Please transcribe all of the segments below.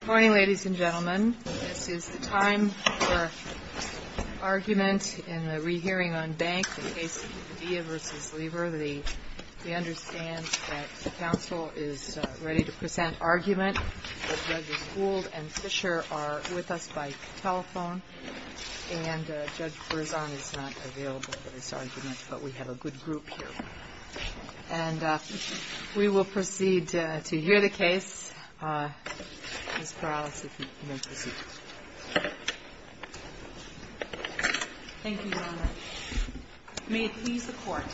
Good morning, ladies and gentlemen. This is the time for argument in the rehearing on Bank, the case of Villa v. Lever. We understand that the counsel is ready to present argument. Judge Gould and Fischer are with us by telephone, and Judge Berzon is not available for this argument, but we have a good group here. And we will proceed to hear the case. Ms. Perales, if you will proceed. Thank you, Your Honor. May it please the Court.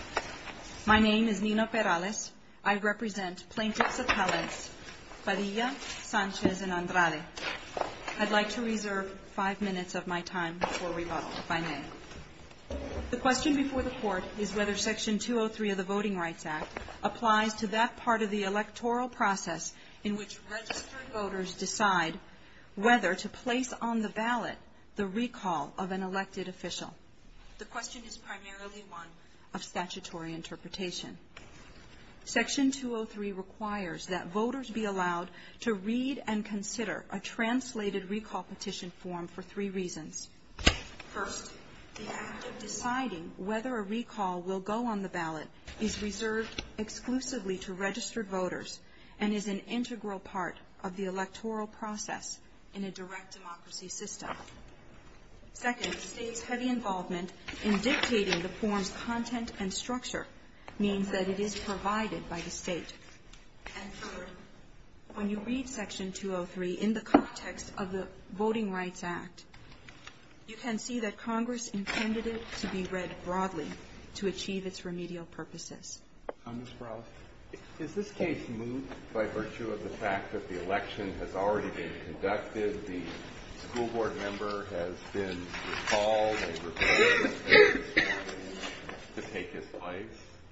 My name is Nina Perales. I represent plaintiffs appellants Padilla, Sanchez, and Andrade. I'd like to reserve five minutes of my time for rebuttal, if I may. The question before the Court is whether Section 203 of the Voting Rights Act applies to that part of the electoral process in which registered voters decide whether to place on the ballot the recall of an elected official. The question is primarily one of statutory interpretation. Section 203 requires that voters be allowed to read and consider a translated recall petition form for three reasons. First, the act of deciding whether a recall will go on the ballot is reserved exclusively to registered voters and is an integral part of the electoral process in a direct democracy system. Second, the State's heavy involvement in dictating the form's content and structure means that it is provided by the State. And third, when you read Section 203 in the context of the Voting Rights Act, you can see that Congress intended it to be read broadly to achieve its remedial purposes. Ms. Perales, is this case moved by virtue of the fact that the election has already been conducted, the school board member has been recalled and requested to take his place?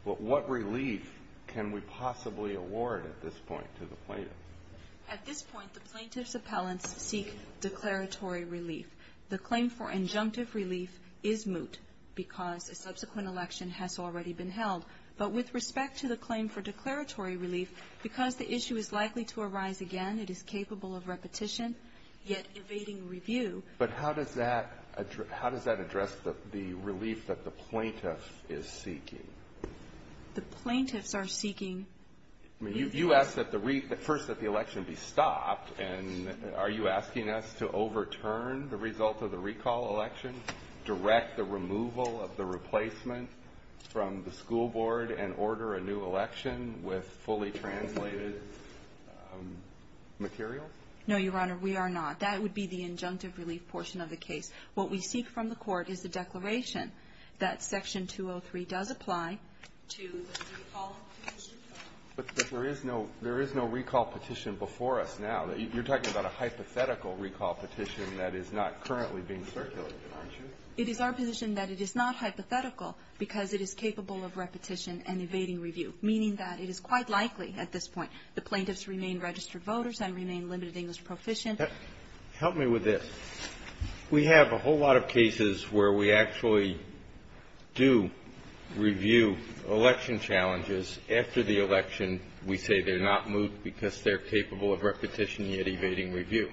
What relief can we possibly award at this point to the plaintiff? At this point, the plaintiff's appellants seek declaratory relief. The claim for injunctive relief is moot because a subsequent election has already been held. But with respect to the claim for declaratory relief, because the issue is likely to arise again, it is capable of repetition, yet evading review. But how does that address the relief that the plaintiff is seeking? The plaintiffs are seeking. You asked first that the election be stopped. And are you asking us to overturn the result of the recall election, direct the removal of the replacement from the school board, and order a new election with fully translated material? No, Your Honor, we are not. That would be the injunctive relief portion of the case. What we seek from the Court is the declaration that Section 203 does apply to the recall petition. But there is no recall petition before us now. You're talking about a hypothetical recall petition that is not currently being circulated, aren't you? It is our position that it is not hypothetical because it is capable of repetition and evading review, meaning that it is quite likely at this point the plaintiffs remain registered voters and remain limited English proficient. Help me with this. We have a whole lot of cases where we actually do review election challenges after the election. We say they're not moved because they're capable of repetition, yet evading review.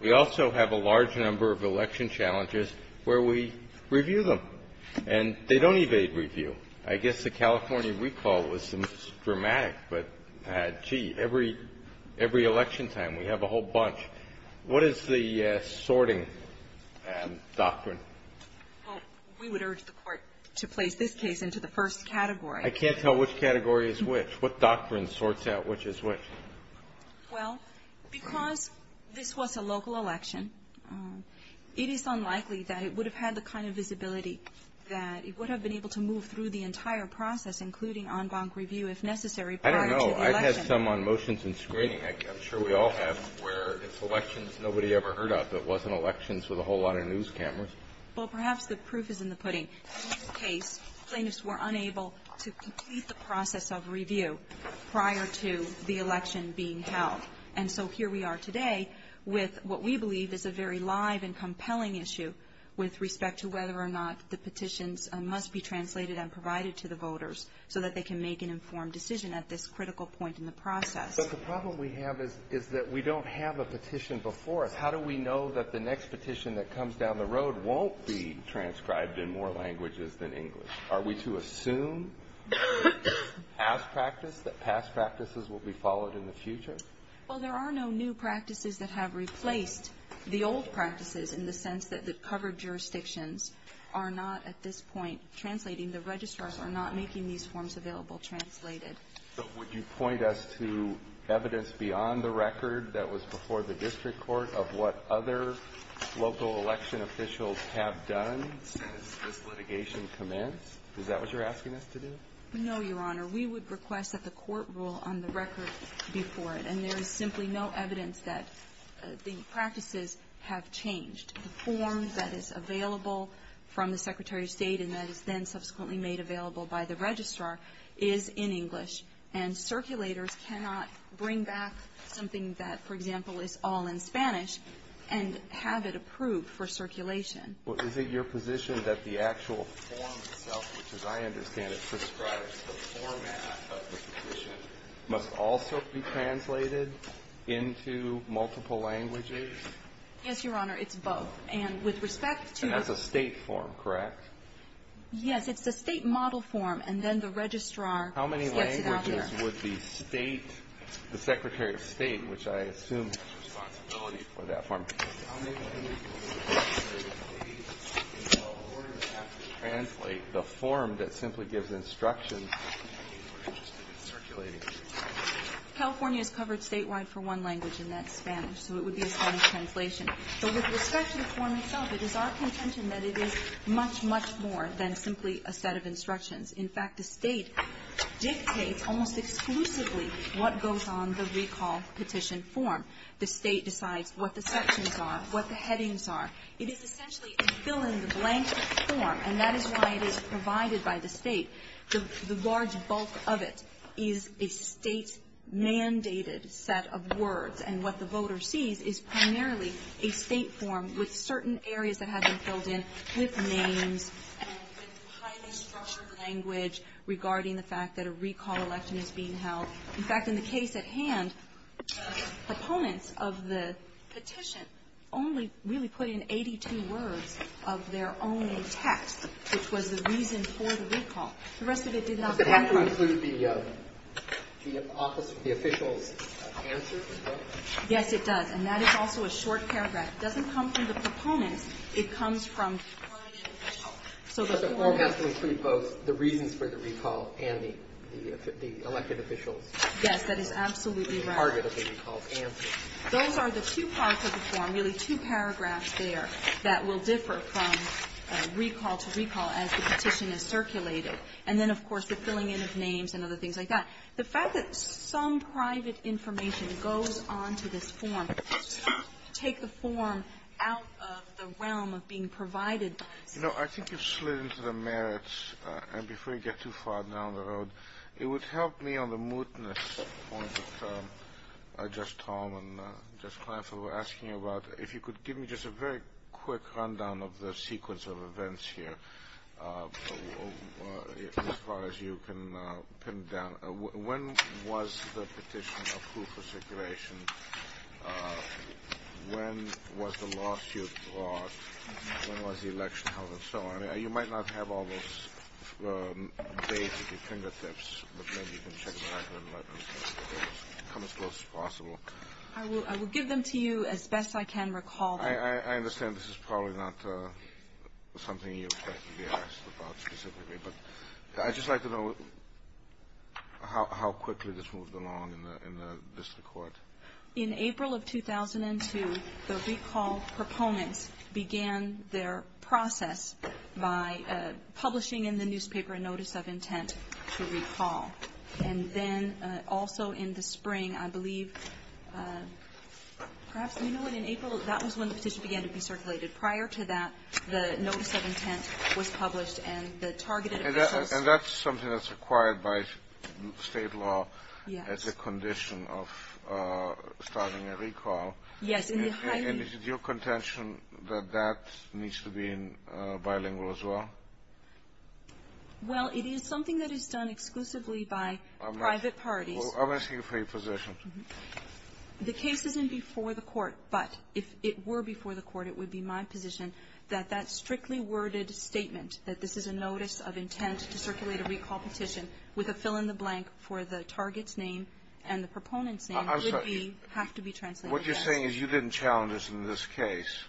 We also have a large number of election challenges where we review them. And they don't evade review. I guess the California recall was the most dramatic, but, gee, every election time we have a whole bunch. What is the sorting doctrine? Well, we would urge the Court to place this case into the first category. I can't tell which category is which. What doctrine sorts out which is which? Well, because this was a local election, it is unlikely that it would have had the kind of visibility that it would have been able to move through the entire process, including en banc review, if necessary, prior to the election. I don't know. I've had some on motions and screening. I'm sure we all have, where it's elections nobody ever heard of. It wasn't elections with a whole lot of news cameras. Well, perhaps the proof is in the pudding. In this case, plaintiffs were unable to complete the process of review prior to the election being held. And so here we are today with what we believe is a very live and compelling issue with respect to whether or not the petitions must be translated and provided to the voters so that they can make an informed decision at this critical point in the process. But the problem we have is that we don't have a petition before us. How do we know that the next petition that comes down the road won't be transcribed in more languages than English? Are we to assume, as practice, that past practices will be followed in the future? Well, there are no new practices that have replaced the old practices in the sense that the covered jurisdictions are not at this point translating. The registrars are not making these forms available translated. So would you point us to evidence beyond the record that was before the district court of what other local election officials have done since this litigation commenced? Is that what you're asking us to do? No, Your Honor. We would request that the court rule on the record before it. And there is simply no evidence that the practices have changed. The form that is available from the Secretary of State and that is then subsequently made available by the registrar is in English. And circulators cannot bring back something that, for example, is all in Spanish and have it approved for circulation. Well, is it your position that the actual form itself, which, as I understand it, prescribes the format of the petition, must also be translated into multiple languages? Yes, Your Honor. It's both. And with respect to the State form, correct? Yes. It's the State model form. And then the registrar gets it out here. How many languages would the State, the Secretary of State, which I assume has responsibility for that form, How many languages would the Secretary of State in California have to translate the form that simply gives instructions to the people who are interested in circulating it? California is covered statewide for one language, and that's Spanish. So it would be a Spanish translation. But with respect to the form itself, it is our contention that it is much, much more than simply a set of instructions. In fact, the State dictates almost exclusively what goes on the recall petition form. The State decides what the sections are, what the headings are. It is essentially a fill-in-the-blank form, and that is why it is provided by the State. The large bulk of it is a State-mandated set of words, and what the voter sees is primarily a State form with certain areas that have been filled in with names and with highly structured language regarding the fact that a recall election is being held. In fact, in the case at hand, proponents of the petition only really put in 82 words of their own text, which was the reason for the recall. The rest of it did not. But that has to include the office, the official's answer as well? Yes, it does. And that is also a short paragraph. It doesn't come from the proponents. It comes from permanent officials. So the form has to include both the reasons for the recall and the elected officials Yes, that is absolutely right. and the target of the recall answer. Those are the two parts of the form, really two paragraphs there, that will differ from recall to recall as the petition is circulated. And then, of course, the filling in of names and other things like that. The fact that some private information goes on to this form does not take the form out of the realm of being provided by the State. I think you've slid into the merits, and before you get too far down the road, it would help me on the mootness point that just Tom and just Clarence were asking about if you could give me just a very quick rundown of the sequence of events here, as far as you can pin down. When was the petition approved for circulation? When was the lawsuit brought? When was the election held and so on? You might not have all those dates at your fingertips, but maybe you can check them out and let us come as close as possible. I will give them to you as best I can recall. I understand this is probably not something you'd like to be asked about specifically, but I'd just like to know how quickly this moved along in the district court. In April of 2002, the recall proponents began their process by publishing in the newspaper a notice of intent to recall. And then also in the spring, I believe, perhaps, you know, in April, that was when the petition began to be circulated. Prior to that, the notice of intent was published, and the targeted officials And that's something that's required by state law as a condition of starting a recall. Yes. And is it your contention that that needs to be bilingual as well? Well, it is something that is done exclusively by private parties. I'm asking for your position. The case isn't before the court, but if it were before the court, it would be my position that that strictly worded statement that this is a notice of intent to circulate a recall petition with a fill-in-the-blank for the target's name and the proponent's name would have to be translated. What you're saying is you didn't challenge us in this case.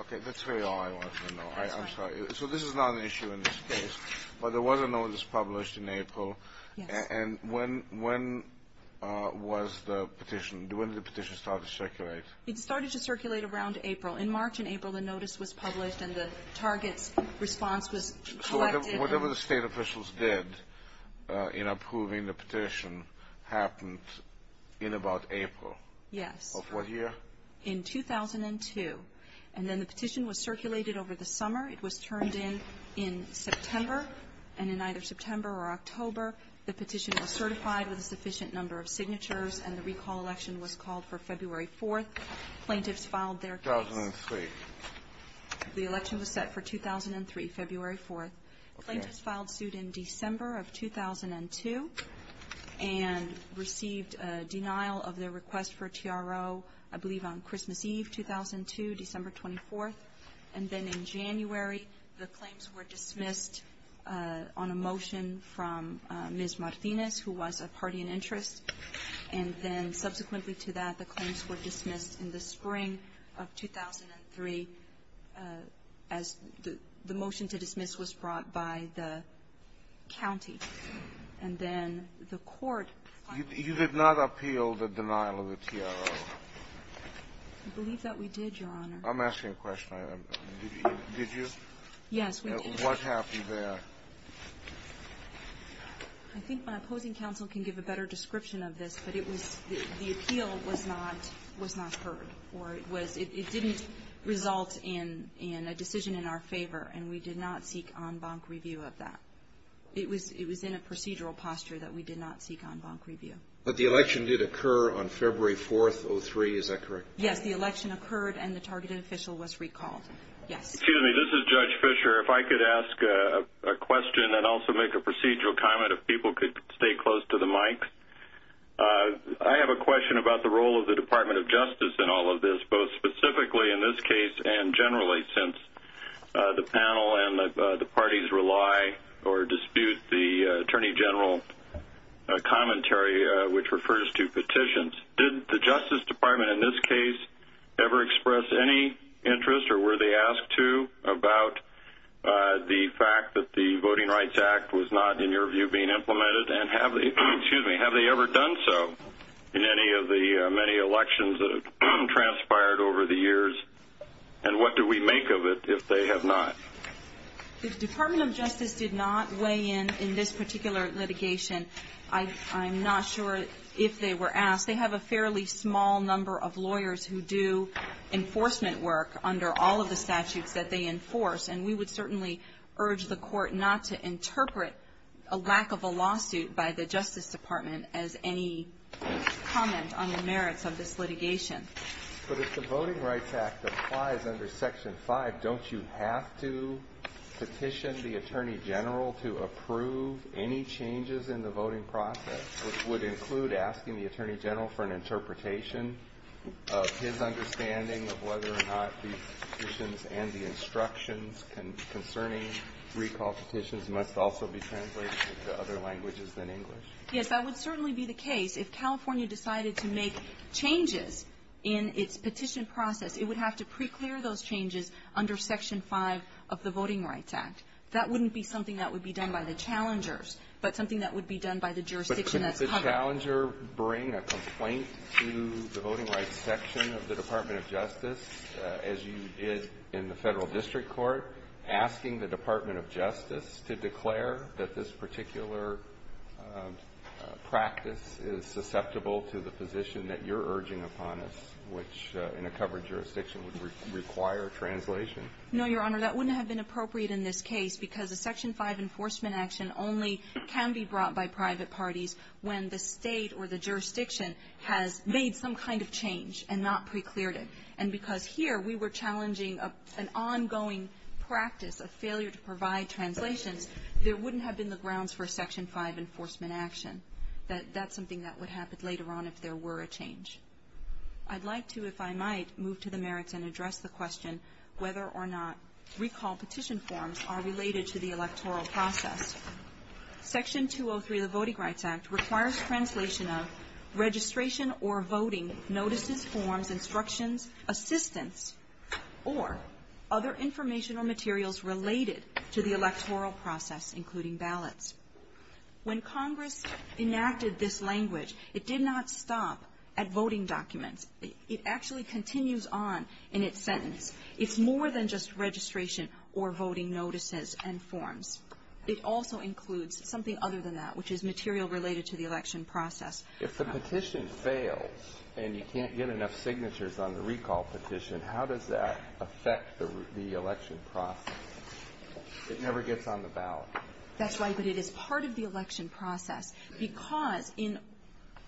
Okay. That's really all I wanted to know. I'm sorry. So this is not an issue in this case. But there was a notice published in April. Yes. And when was the petition? When did the petition start to circulate? It started to circulate around April. In March and April, the notice was published and the target's response was collected. So whatever the State officials did in approving the petition happened in about April? Yes. Of what year? In 2002. And then the petition was circulated over the summer. It was turned in in September. And in either September or October, the petition was certified with a sufficient number of signatures, and the recall election was called for February 4th. Plaintiffs filed their case. 2003. The election was set for 2003, February 4th. Okay. Plaintiffs filed suit in December of 2002 and received a denial of their request for TRO, I believe, on Christmas Eve, 2002, December 24th. And then in January, the claims were dismissed on a motion from Ms. Martinez, who was a party in interest. And then subsequently to that, the claims were dismissed in the spring of 2003 as the motion to dismiss was brought by the county. And then the court filed the case. You did not appeal the denial of the TRO? I believe that we did, Your Honor. I'm asking a question. Did you? Yes, we did. What happened there? I think my opposing counsel can give a better description of this, but the appeal was not heard. It didn't result in a decision in our favor, and we did not seek en banc review of that. It was in a procedural posture that we did not seek en banc review. But the election did occur on February 4th, 2003. Is that correct? Yes. The election occurred, and the targeted official was recalled. Yes. Excuse me. This is Judge Fischer. If I could ask a question and also make a procedural comment, if people could stay close to the mic. I have a question about the role of the Department of Justice in all of this, both specifically in this case and generally, since the panel and the parties rely or dispute the Attorney General commentary, which refers to petitions. Did the Justice Department in this case ever express any interest or were they asked to about the fact that the Voting Rights Act was not, in your view, being implemented? And have they ever done so in any of the many elections that have transpired over the years? And what do we make of it if they have not? The Department of Justice did not weigh in in this particular litigation. I'm not sure if they were asked. They have a fairly small number of lawyers who do enforcement work under all of the statutes that they enforce, and we would certainly urge the Court not to interpret a lack of a lawsuit by the Justice Department as any comment on the merits of this litigation. But if the Voting Rights Act applies under Section 5, don't you have to petition the Attorney General to approve any changes in the interpretation of his understanding of whether or not these petitions and the instructions concerning recall petitions must also be translated into other languages than English? Yes, that would certainly be the case. If California decided to make changes in its petition process, it would have to preclear those changes under Section 5 of the Voting Rights Act. That wouldn't be something that would be done by the challengers, but something that would be done by the jurisdiction that's covered. Would a challenger bring a complaint to the Voting Rights Section of the Department of Justice, as you did in the Federal District Court, asking the Department of Justice to declare that this particular practice is susceptible to the position that you're urging upon us, which in a covered jurisdiction would require translation? No, Your Honor. That wouldn't have been appropriate in this case, because a Section 5 enforcement action only can be brought by private parties when the state or the jurisdiction has made some kind of change and not precleared it. And because here we were challenging an ongoing practice of failure to provide translations, there wouldn't have been the grounds for a Section 5 enforcement action. That's something that would happen later on if there were a change. I'd like to, if I might, move to the merits and address the question whether or not recall petition forms are related to the electoral process. Section 203 of the Voting Rights Act requires translation of registration or voting notices, forms, instructions, assistance, or other informational materials related to the electoral process, including ballots. When Congress enacted this language, it did not stop at voting documents. It actually continues on in its sentence. It's more than just registration or voting notices and forms. It also includes something other than that, which is material related to the election process. If the petition fails and you can't get enough signatures on the recall petition, how does that affect the election process? It never gets on the ballot. That's right, but it is part of the election process, because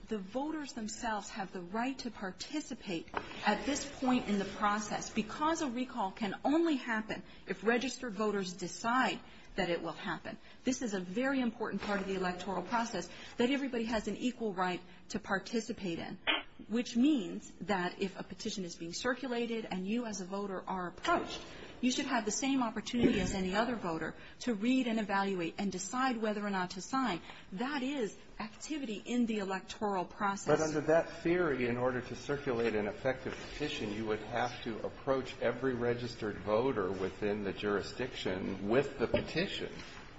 the voters themselves have the right to participate at this point in the process. Because a recall can only happen if registered voters decide that it will happen. This is a very important part of the electoral process, that everybody has an equal right to participate in, which means that if a petition is being circulated and you as a voter are approached, you should have the same opportunity as any other voter to read and evaluate and decide whether or not to sign. That is activity in the electoral process. But under that theory, in order to circulate an effective petition, you would have to approach every registered voter within the jurisdiction with the petition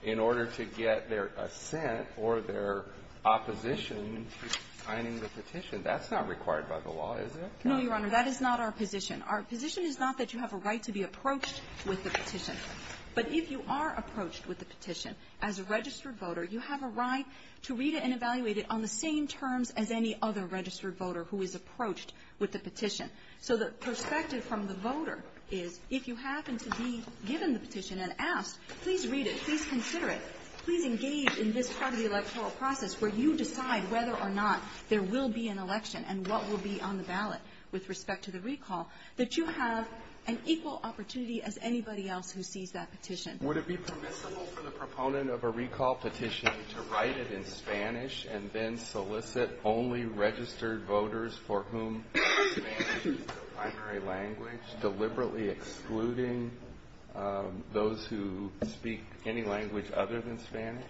in order to get their assent or their opposition to signing the petition. That's not required by the law, is it? No, Your Honor. That is not our position. Our position is not that you have a right to be approached with the petition. But if you are approached with the petition as a registered voter, you have a right to read it and evaluate it on the same terms as any other registered voter who is approached with the petition. So the perspective from the voter is, if you happen to be given the petition and asked, please read it, please consider it, please engage in this part of the electoral process where you decide whether or not there will be an election and what will be on the ballot with respect to the recall, that you have an equal opportunity as anybody else who sees that petition. Would it be permissible for the proponent of a recall petition to write it in Spanish and then solicit only registered voters for whom Spanish is the primary language, deliberately excluding those who speak any language other than Spanish?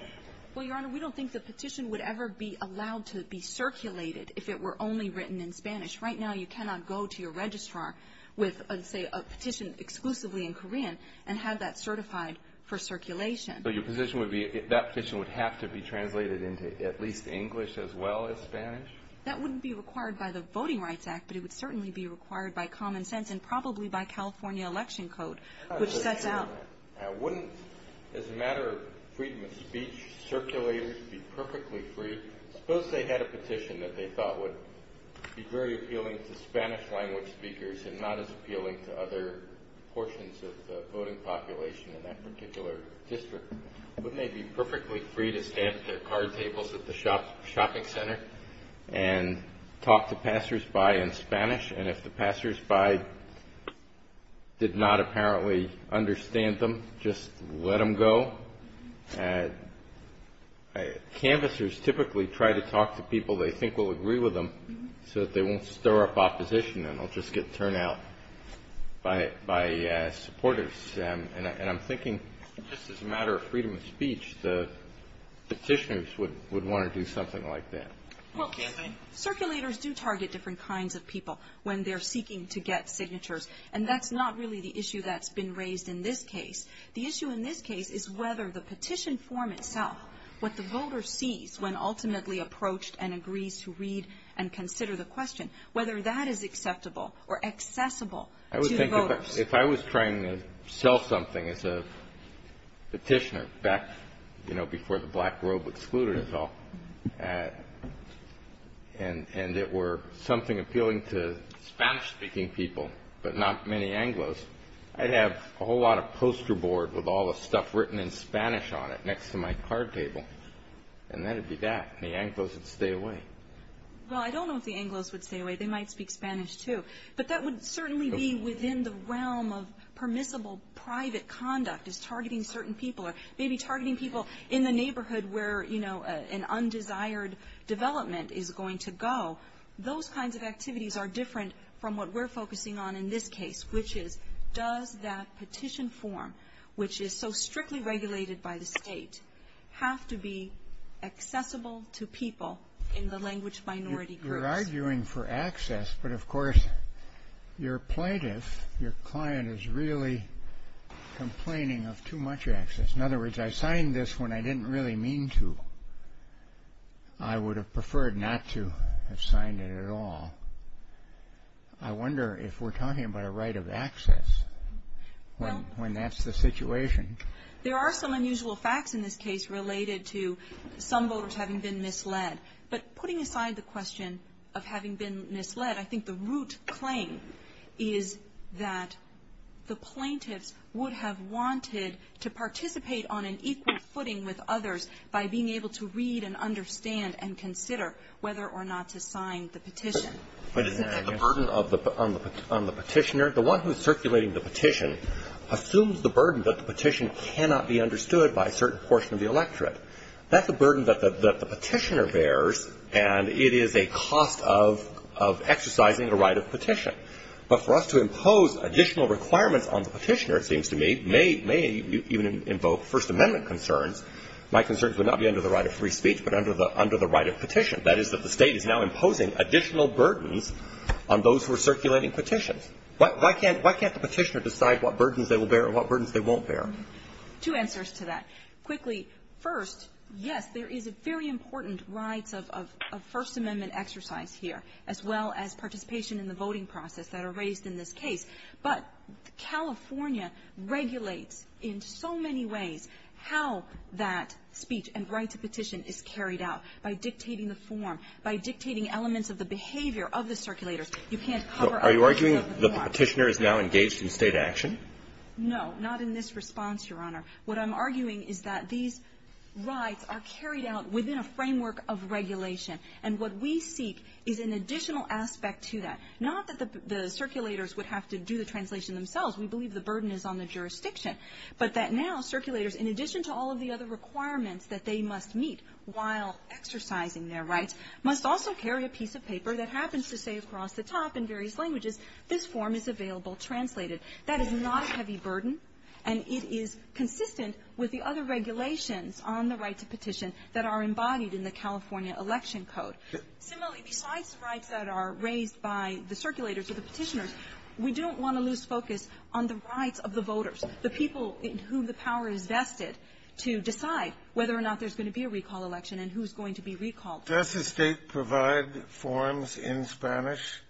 Well, Your Honor, we don't think the petition would ever be allowed to be circulated if it were only written in Spanish. Right now you cannot go to your registrar with, say, a petition exclusively in Korean and have that certified for circulation. So your position would be that that petition would have to be translated into at least English as well as Spanish? That wouldn't be required by the Voting Rights Act, but it would certainly be required by common sense and probably by California Election Code, which sets out. Now wouldn't, as a matter of freedom of speech, circulators be perfectly free? Suppose they had a petition that they thought would be very appealing to other portions of the voting population in that particular district. Wouldn't they be perfectly free to stand at their card tables at the shopping center and talk to passersby in Spanish? And if the passersby did not apparently understand them, just let them go? Canvassers typically try to talk to people they think will agree with them so that they won't stir up opposition and they'll just get turned out by supporters. And I'm thinking just as a matter of freedom of speech, the petitioners would want to do something like that. Well, circulators do target different kinds of people when they're seeking to get signatures, and that's not really the issue that's been raised in this case. The issue in this case is whether the petition form itself, what the voter sees when ultimately approached and agrees to read and consider the question, whether that is acceptable or accessible to the voters. I would think if I was trying to sell something as a petitioner back, you know, before the black robe excluded us all, and it were something appealing to Spanish speaking people, but not many Anglos, I'd have a whole lot of poster board with all the stuff written in Spanish on it next to my card table, and that would be that. The Anglos would stay away. Well, I don't know if the Anglos would stay away. They might speak Spanish, too. But that would certainly be within the realm of permissible private conduct is targeting certain people or maybe targeting people in the neighborhood where, you know, an undesired development is going to go. Those kinds of activities are different from what we're focusing on in this case, which is does that petition form, which is so strictly regulated by the state, have to be accessible to people in the language minority groups? You're arguing for access, but, of course, your plaintiff, your client is really complaining of too much access. In other words, I signed this when I didn't really mean to. I would have preferred not to have signed it at all. I wonder if we're talking about a right of access when that's the situation. There are some unusual facts in this case related to some voters having been misled. But putting aside the question of having been misled, I think the root claim is that the plaintiffs would have wanted to participate on an equal footing with others by being able to read and understand and consider whether or not to sign the petition. The burden on the petitioner, the one who's circulating the petition, assumes the burden that the petition cannot be understood by a certain portion of the electorate. That's a burden that the petitioner bears, and it is a cost of exercising a right of petition. But for us to impose additional requirements on the petitioner, it seems to me, may even invoke First Amendment concerns. My concerns would not be under the right of free speech, but under the right of petition. That is that the State is now imposing additional burdens on those who are circulating petitions. Why can't the petitioner decide what burdens they will bear and what burdens they won't bear? Two answers to that. Quickly, first, yes, there is a very important rights of First Amendment exercise here, as well as participation in the voting process that are raised in this case. But California regulates in so many ways how that speech and right to petition is carried out by dictating the form, by dictating elements of the behavior of the circulators. You can't cover up the Second Amendment. So are you arguing the petitioner is now engaged in State action? No, not in this response, Your Honor. What I'm arguing is that these rights are carried out within a framework of regulation. And what we seek is an additional aspect to that. Not that the circulators would have to do the translation themselves. We believe the burden is on the jurisdiction. But that now circulators, in addition to all of the other requirements that they must meet while exercising their rights, must also carry a piece of paper that happens to say across the top in various languages, this form is available translated. That is not a heavy burden, and it is consistent with the other regulations on the right to petition that are embodied in the California Election Code. Similarly, besides rights that are raised by the circulators or the petitioners, we don't want to lose focus on the rights of the voters, the people in whom the power is vested, to decide whether or not there's going to be a recall election and who's going to be recalled. Does the State provide forms in Spanish?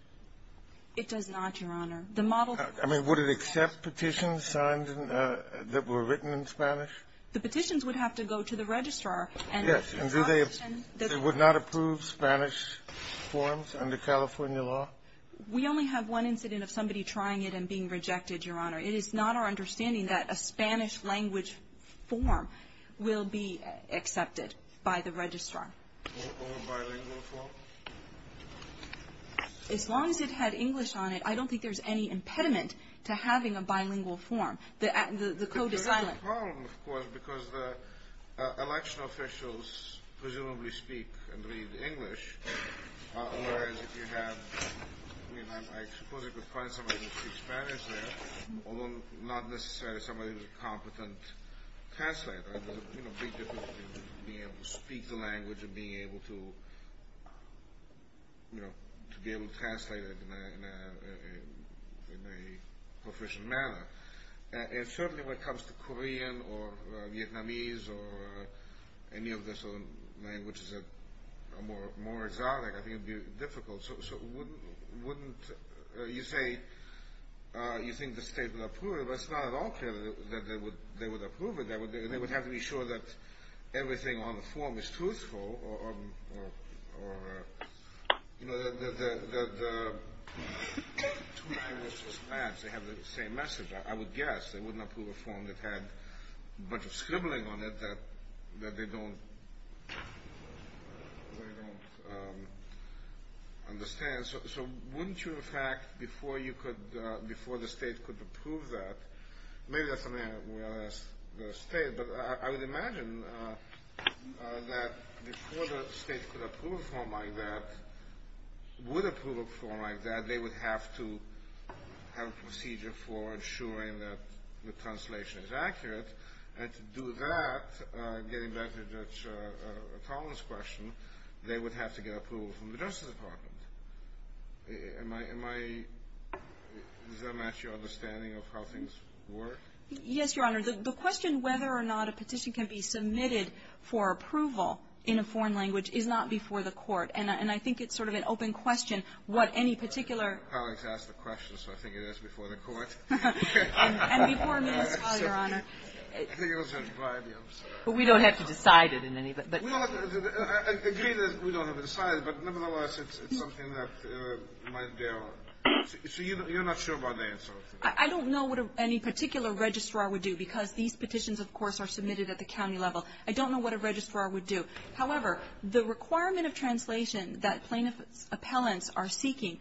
It does not, Your Honor. The model of the State does not. I mean, would it accept petitions signed that were written in Spanish? The petitions would have to go to the registrar. Yes. And do they approve Spanish forms under California law? We only have one incident of somebody trying it and being rejected, Your Honor. It is not our understanding that a Spanish-language form will be accepted by the registrar. Or a bilingual form? As long as it had English on it, I don't think there's any impediment to having a bilingual form. The code is silent. But there is a problem, of course, because the election officials presumably speak and read English, whereas if you have, I mean, I suppose you could find somebody who speaks Spanish there, although not necessarily somebody who's a competent translator. There's a big difference between being able to speak the language and being able to, you know, to be able to translate it in a proficient manner. And certainly when it comes to Korean or Vietnamese or any of the southern languages that are more exotic, I think it would be difficult. So wouldn't you say you think the state would approve it? But it's not at all clear that they would approve it. They would have to be sure that everything on the form is truthful or, you know, the two languages match. They have the same message, I would guess. They wouldn't approve a form that had a bunch of scribbling on it that they don't understand. So wouldn't you, in fact, before the state could approve that, maybe that's something I would ask the state, but I would imagine that before the state could approve a form like that, would approve a form like that, they would have to have a procedure for ensuring that the translation is accurate. And to do that, getting back to Judge Collins' question, they would have to get approval from the Justice Department. Am I — does that match your understanding of how things work? Yes, Your Honor. The question whether or not a petition can be submitted for approval in a foreign language is not before the court. And I think it's sort of an open question what any particular — I think my colleagues asked the question, so I think it is before the court. And before me as well, Your Honor. I think it was at Vibium. But we don't have to decide it in any — I agree that we don't have to decide it, but nevertheless, it's something that might be there. So you're not sure about the answer? I don't know what any particular registrar would do, because these petitions, of course, are submitted at the county level. I don't know what a registrar would do. However, the requirement of translation that plaintiff's appellants are seeking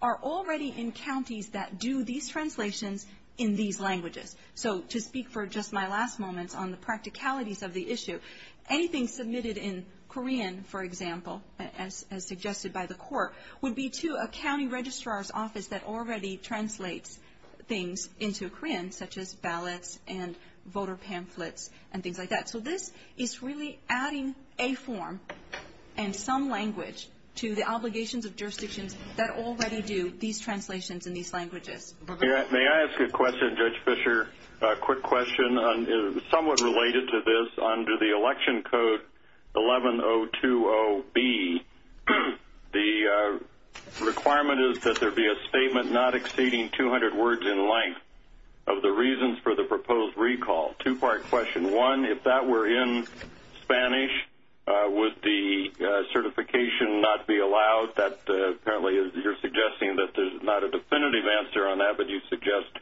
are already in counties that do these translations in these languages. So to speak for just my last moments on the practicalities of the issue, anything submitted in Korean, for example, as suggested by the court, would be to a county registrar's office that already translates things into Korean, such as ballots and voter pamphlets and things like that. So this is really adding a form and some language to the obligations of jurisdictions that already do these translations in these languages. May I ask a question, Judge Fischer? A quick question somewhat related to this. Under the Election Code 11-020B, the requirement is that there be a statement not exceeding 200 words in length of the reasons for the proposed recall. Two-part question. One, if that were in Spanish, would the certification not be allowed? Apparently you're suggesting that there's not a definitive answer on that, but you suggest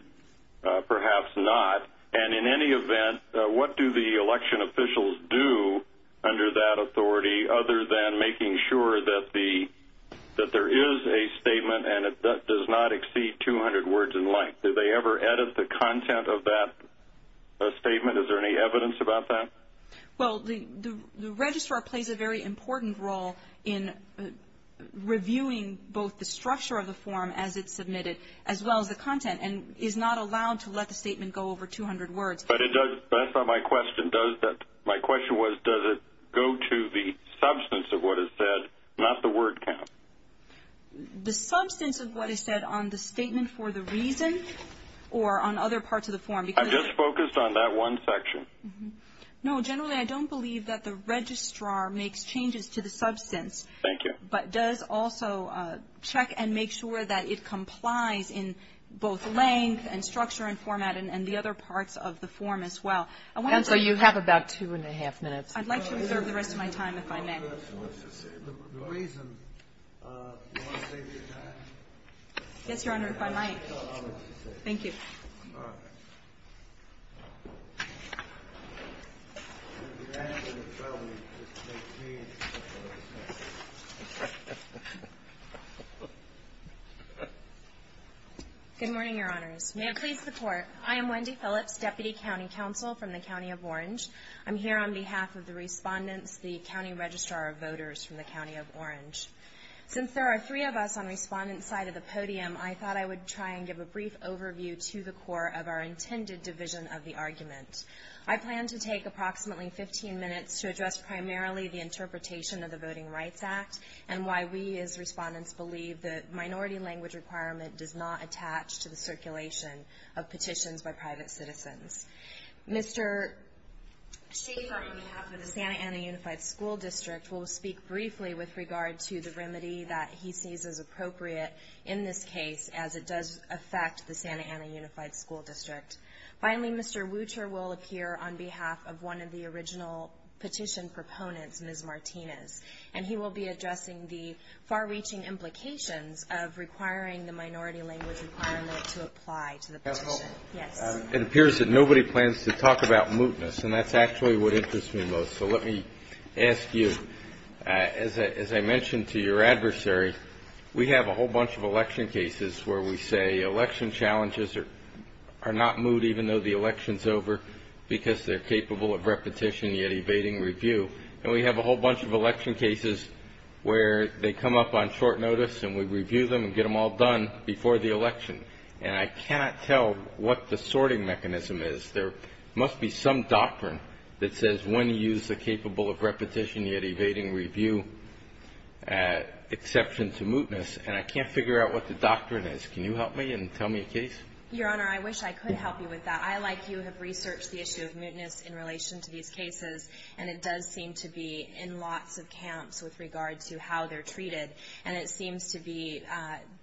perhaps not. And in any event, what do the election officials do under that authority other than making sure that there is a statement and it does not exceed 200 words in length? Do they ever edit the content of that statement? Is there any evidence about that? Well, the registrar plays a very important role in reviewing both the structure of the form as it's submitted as well as the content and is not allowed to let the statement go over 200 words. But that's not my question. My question was, does it go to the substance of what is said, not the word count? The substance of what is said on the statement for the reason or on other parts of the form? I'm just focused on that one section. No, generally I don't believe that the registrar makes changes to the substance. Thank you. But does also check and make sure that it complies in both length and structure and format and the other parts of the form as well. And so you have about two and a half minutes. The reason, do you want to save your time? Yes, Your Honor, if I might. Thank you. Good morning, Your Honors. May it please the Court. I am Wendy Phillips, Deputy County Counsel from the County of Orange. I'm here on behalf of the Respondents, the County Registrar of Voters from the County of Orange. Since there are three of us on Respondent's side of the podium, I thought I would try and give a brief overview to the Court of our intended division of the argument. I plan to take approximately 15 minutes to address primarily the interpretation of the Voting Rights Act and why we as Respondents believe that minority language requirement does not attach to the circulation of petitions by private citizens. Mr. Schaffer, on behalf of the Santa Ana Unified School District, will speak briefly with regard to the remedy that he sees as appropriate in this case, as it does affect the Santa Ana Unified School District. Finally, Mr. Wucher will appear on behalf of one of the original petition proponents, Ms. Martinez, and he will be addressing the far-reaching implications of requiring the minority language requirement to apply to the petition. It appears that nobody plans to talk about mootness, and that's actually what interests me most. So let me ask you, as I mentioned to your adversary, we have a whole bunch of election cases where we say election challenges are not moot, even though the election's over, because they're capable of repetition, yet evading review. And we have a whole bunch of election cases where they come up on short notice, and we review them and get them all done before the election. And I cannot tell what the sorting mechanism is. There must be some doctrine that says when to use the capable of repetition, yet evading review exception to mootness, and I can't figure out what the doctrine is. Can you help me and tell me a case? Your Honor, I wish I could help you with that. I, like you, have researched the issue of mootness in relation to these cases, and it does seem to be in lots of camps with regard to how they're treated. And it seems to be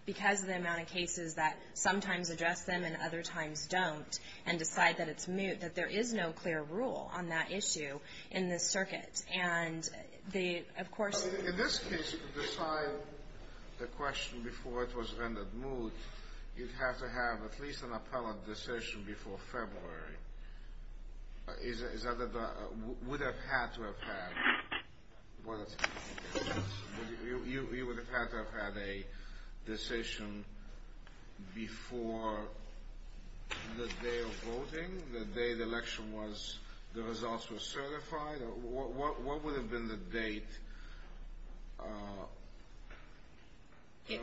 because of the amount of cases that sometimes address them and other times don't and decide that it's moot, that there is no clear rule on that issue in this circuit. And they, of course – In this case, to decide the question before it was rendered moot, you'd have to have at least an appellate decision before February. Is that a – would have had to have had. You would have had to have had a decision before the day of voting, the day the election was – the results were certified? What would have been the date, you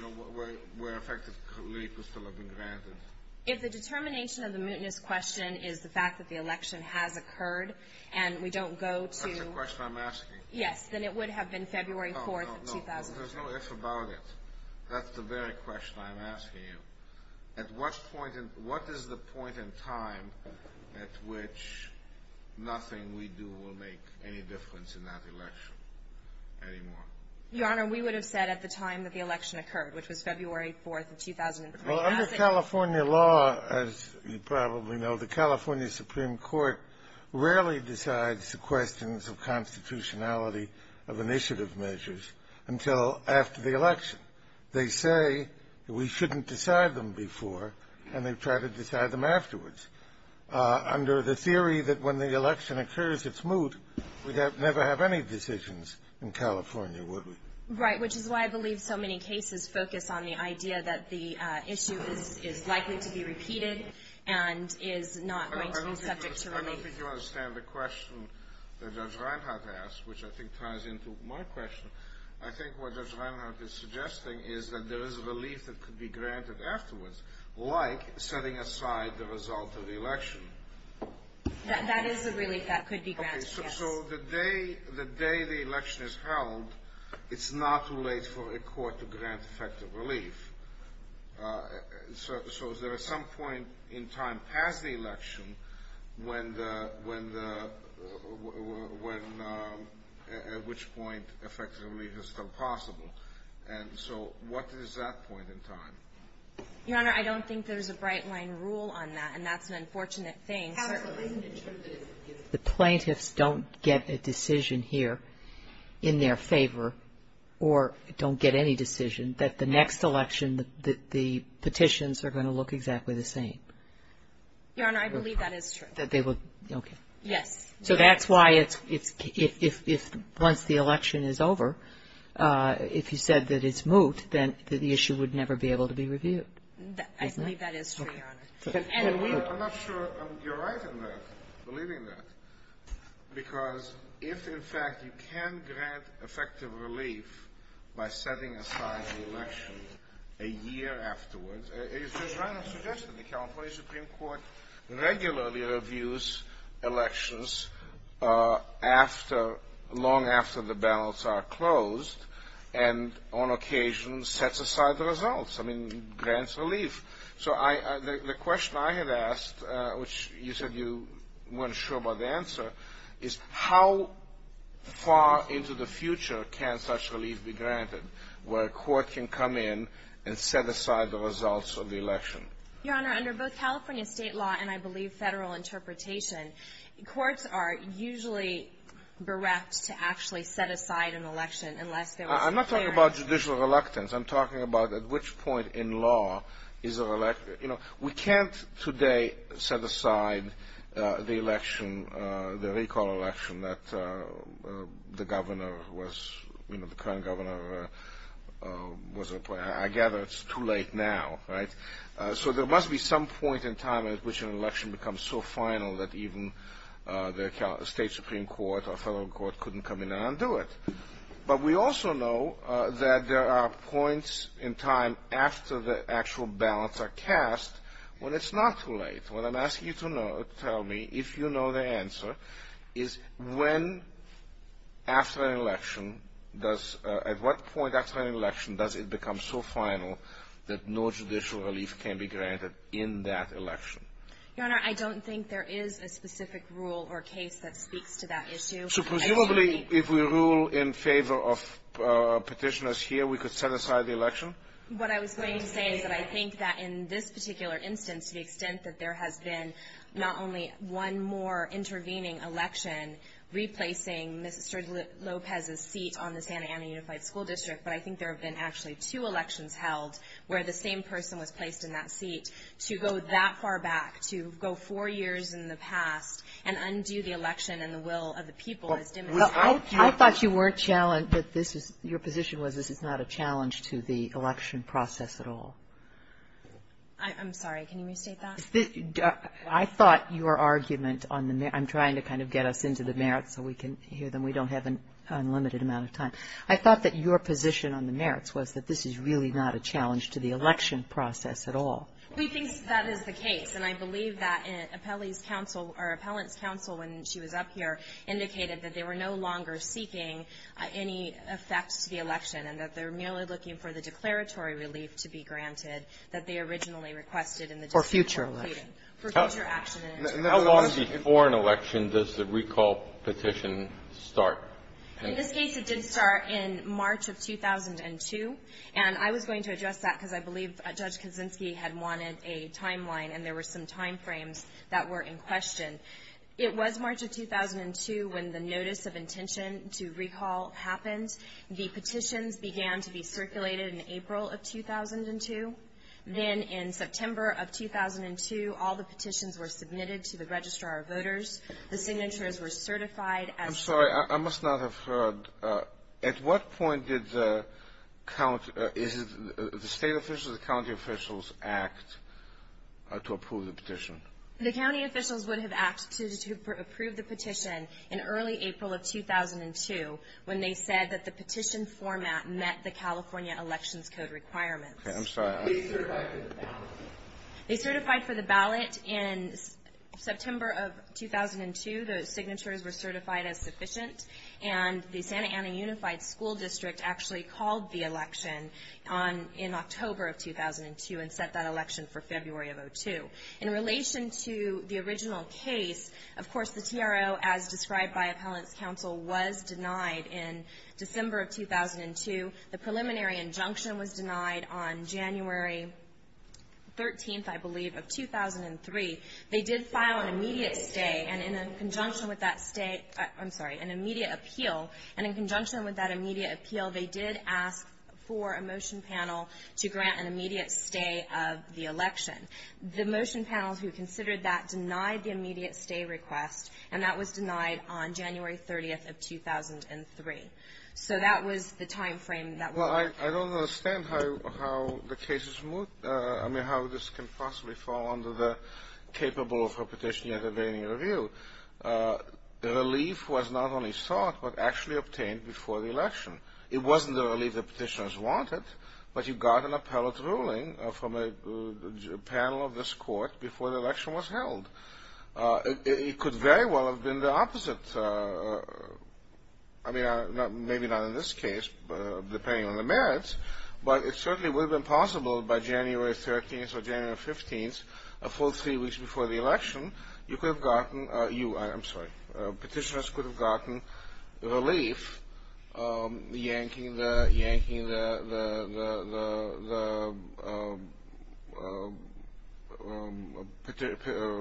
know, where effectively could still have been granted? If the determination of the mootness question is the fact that the election has occurred and we don't go to – That's the question I'm asking. Yes, then it would have been February 4th of 2003. No, no, no. There's no if about it. That's the very question I'm asking you. At what point in – what is the point in time at which nothing we do will make any difference in that election anymore? Your Honor, we would have said at the time that the election occurred, which was February 4th of 2003. Under California law, as you probably know, the California Supreme Court rarely decides the questions of constitutionality of initiative measures until after the election. They say that we shouldn't decide them before, and they try to decide them afterwards. Under the theory that when the election occurs, it's moot, we'd never have any decisions in California, would we? Right, which is why I believe so many cases focus on the idea that the issue is likely to be repeated and is not going to be subject to relief. I don't think you understand the question that Judge Reinhart asked, which I think ties into my question. I think what Judge Reinhart is suggesting is that there is relief that could be granted afterwards, like setting aside the result of the election. That is a relief that could be granted, yes. Okay, so the day the election is held, it's not too late for a court to grant effective relief. So is there some point in time past the election when the — when the — when — at which point effective relief is still possible? And so what is that point in time? Your Honor, I don't think there's a bright-line rule on that, and that's an unfortunate thing. The plaintiffs don't get a decision here in their favor or don't get any decision that the next election, the petitions are going to look exactly the same. Your Honor, I believe that is true. Okay. Yes. So that's why it's — if once the election is over, if you said that it's moot, then the issue would never be able to be reviewed. I believe that is true, Your Honor. And we — I'm not sure you're right in that, believing that. Because if, in fact, you can grant effective relief by setting aside the election a year afterwards, it's just random suggestion. The California Supreme Court regularly reviews elections after — long after the ballots are closed and on occasion sets aside the results. I mean, grants relief. So I — the question I have asked, which you said you weren't sure about the answer, is how far into the future can such relief be granted where a court can come in and set aside the results of the election? Your Honor, under both California state law and, I believe, federal interpretation, courts are usually bereft to actually set aside an election unless there was — I'm not talking about judicial reluctance. I'm talking about at which point in law is a — you know, we can't today set aside the election, the recall election that the governor was — you know, the current governor was — I gather it's too late now, right? So there must be some point in time at which an election becomes so final that even the state Supreme Court or federal court couldn't come in and undo it. But we also know that there are points in time after the actual ballots are cast when it's not too late. What I'm asking you to know, tell me, if you know the answer, is when after an election does — at what point after an election does it become so final that no judicial relief can be granted in that election? Your Honor, I don't think there is a specific rule or case that speaks to that issue. So presumably if we rule in favor of petitioners here, we could set aside the election? What I was going to say is that I think that in this particular instance, to the extent that there has been not only one more intervening election replacing Mr. Lopez's seat on the Santa Ana Unified School District, but I think there have been actually two elections held where the same person was placed in that seat. To go that far back, to go four years in the past and undo the election and the will of the people is demonstrated. Well, I thought you weren't challenged — that your position was this is not a challenge to the election process at all. I'm sorry, can you restate that? I thought your argument on the — I'm trying to kind of get us into the merits so we can hear them. We don't have an unlimited amount of time. I thought that your position on the merits was that this is really not a challenge to the election process at all. We think that is the case. And I believe that Appellee's Council — or Appellant's Council, when she was up here, indicated that they were no longer seeking any effects to the election and that they're merely looking for the declaratory relief to be granted that they originally requested in the — For future election. For future action. How long before an election does the recall petition start? In this case, it did start in March of 2002. And I was going to address that because I believe Judge Kaczynski had wanted a timeline, and there were some timeframes that were in question. It was March of 2002 when the notice of intention to recall happened. The petitions began to be circulated in April of 2002. Then in September of 2002, all the petitions were submitted to the registrar of voters. The signatures were certified as — I'm sorry. I must not have heard. At what point did the — is it the state officials or the county officials act to approve the petition? The county officials would have acted to approve the petition in early April of 2002 when they said that the petition format met the California Elections Code requirements. Okay. I'm sorry. They certified for the ballot? They certified for the ballot in September of 2002. The signatures were certified as sufficient. And the Santa Ana Unified School District actually called the election in October of 2002 and set that election for February of 2002. In relation to the original case, of course, the TRO, as described by Appellant's Counsel, was denied in December of 2002. The preliminary injunction was denied on January 13th, I believe, of 2003. They did file an immediate stay and in conjunction with that stay — I'm sorry, an immediate appeal. And in conjunction with that immediate appeal, they did ask for a motion panel to grant an immediate stay of the election. The motion panel who considered that denied the immediate stay request, and that was denied on January 30th of 2003. So that was the timeframe that — Well, I don't understand how the case is — I mean, how this can possibly fall under the capable of a petition yet evading review. Relief was not only sought but actually obtained before the election. It wasn't the relief that petitioners wanted, but you got an appellate's ruling from a panel of this court before the election was held. It could very well have been the opposite. I mean, maybe not in this case, depending on the merits, but it certainly would have been possible by January 13th or January 15th, a full three weeks before the election, you could have gotten — I'm sorry, petitioners could have gotten relief yanking the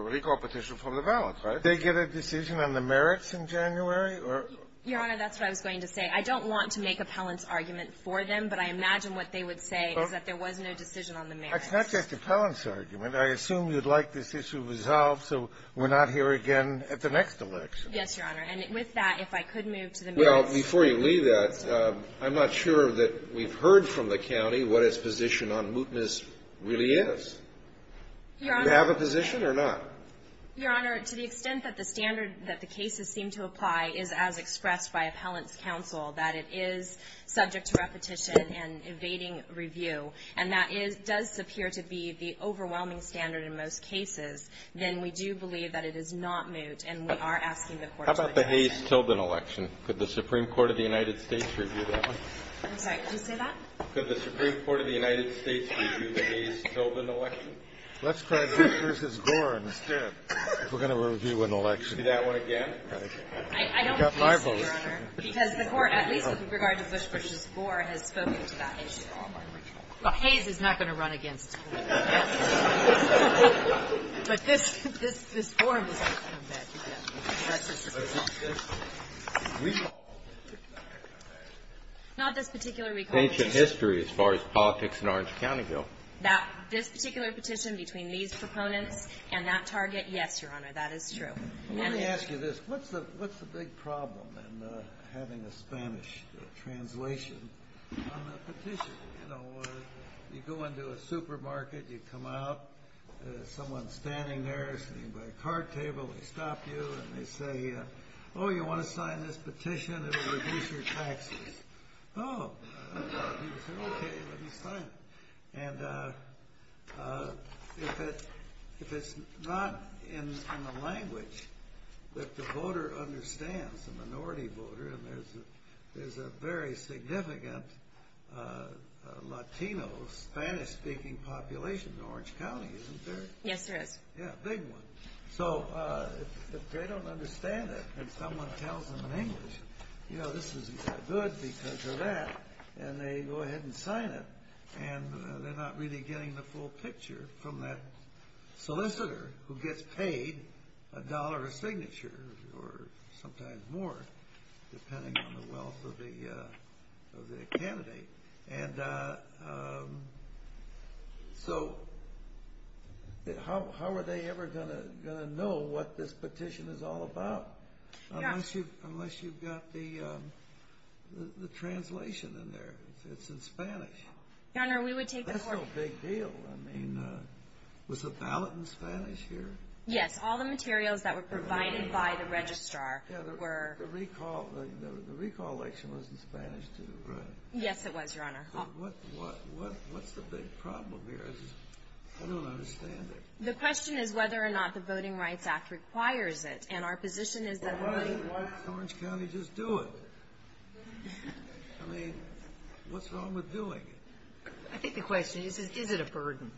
recall petition from the ballot, right? Did they get a decision on the merits in January, or — Your Honor, that's what I was going to say. I don't want to make appellant's argument for them, but I imagine what they would say is that there was no decision on the merits. It's not just appellant's argument. I assume you'd like this issue resolved so we're not here again at the next election. Yes, Your Honor. And with that, if I could move to the merits — Well, before you leave that, I'm not sure that we've heard from the county what its position on mootness really is. Your Honor — Do you have a position or not? Your Honor, to the extent that the standard that the cases seem to apply is as expressed by appellant's counsel, that it is subject to repetition and evading review, and that it does appear to be the overwhelming standard in most cases, then we do believe that it is not moot, and we are asking the court's — How about the Hayes-Tilden election? Could the Supreme Court of the United States review that one? I'm sorry. Could you say that? Could the Supreme Court of the United States review the Hayes-Tilden election? Let's try Bush v. Gorin. We're going to review an election. Do that one again? I don't think so, Your Honor, because the court, at least with regard to Bush v. Gorin, has spoken to that issue already. Well, Hayes is not going to run against him. But this — this forum is going to come back again. Not this particular recall issue. Ancient history as far as politics in Orange County go. This particular petition between these proponents and that target, yes, Your Honor, that is true. Let me ask you this. What's the big problem in having a Spanish translation on a petition? You know, you go into a supermarket, you come out, someone's standing there sitting by a card table, they stop you, and they say, oh, you want to sign this petition? It will reduce your taxes. Oh, okay, let me sign it. And if it's not in the language that the voter understands, the minority voter, and there's a very significant Latino, Spanish-speaking population in Orange County, isn't there? Yes, there is. Yeah, a big one. So if they don't understand it, and someone tells them in English, you know, this is good because of that, and they go ahead and sign it, and they're not really getting the full picture from that solicitor who gets paid a dollar a signature, or sometimes more, depending on the wealth of the candidate. And so how are they ever going to know what this petition is all about unless you've got the translation in there? It's in Spanish. Your Honor, we would take the court... That's no big deal. I mean, was the ballot in Spanish here? Yes, all the materials that were provided by the registrar were... Yeah, the recall election was in Spanish too, right? Yes, it was, Your Honor. What's the big problem here? I don't understand it. The question is whether or not the Voting Rights Act requires it. And our position is that... Why doesn't Orange County just do it? I mean, what's wrong with doing it? I think the question is, is it a burden?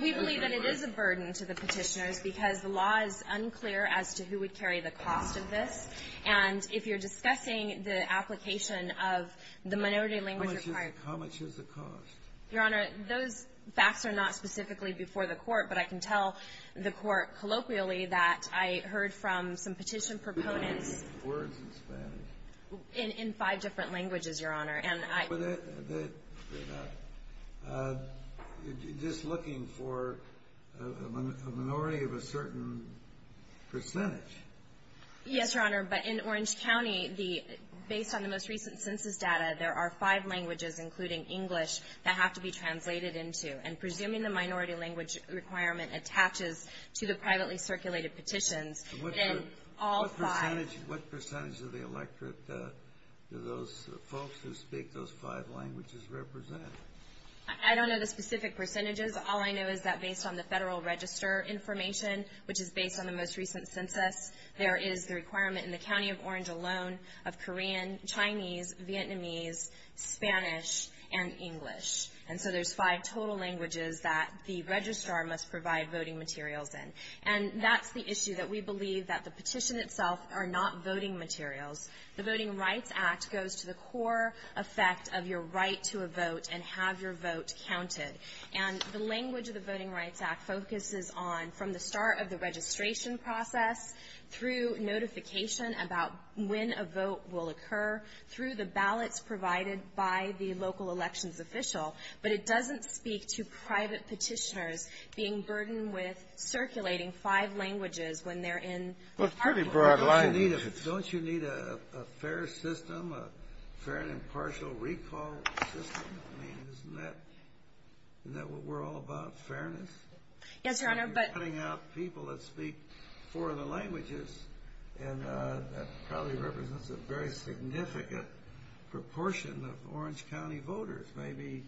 We believe that it is a burden to the petitioners because the law is unclear as to who would carry the cost of this. And if you're discussing the application of the minority language required... How much is the cost? Your Honor, those facts are not specifically before the court, but I can tell the court colloquially that I heard from some petition proponents... Who are looking for words in Spanish? In five different languages, Your Honor, and I... But they're not just looking for a minority of a certain percentage. Yes, Your Honor, but in Orange County, based on the most recent census data, there are five languages, including English, that have to be translated into. And presuming the minority language requirement attaches to the privately circulated petitions... What percentage of the electorate do those folks who speak those five languages represent? I don't know the specific percentages. All I know is that based on the federal register information, which is based on the most recent census... There is the requirement in the county of Orange alone of Korean, Chinese, Vietnamese, Spanish, and English. And so there's five total languages that the registrar must provide voting materials in. And that's the issue that we believe that the petition itself are not voting materials. The Voting Rights Act goes to the core effect of your right to a vote and have your vote counted. And the language of the Voting Rights Act focuses on, from the start of the registration process, through notification about when a vote will occur, through the ballots provided by the local elections official. But it doesn't speak to private petitioners being burdened with circulating five languages when they're in... Isn't that what we're all about? Fairness? Yes, Your Honor, but... You're cutting out people that speak four other languages. And that probably represents a very significant proportion of Orange County voters. Maybe,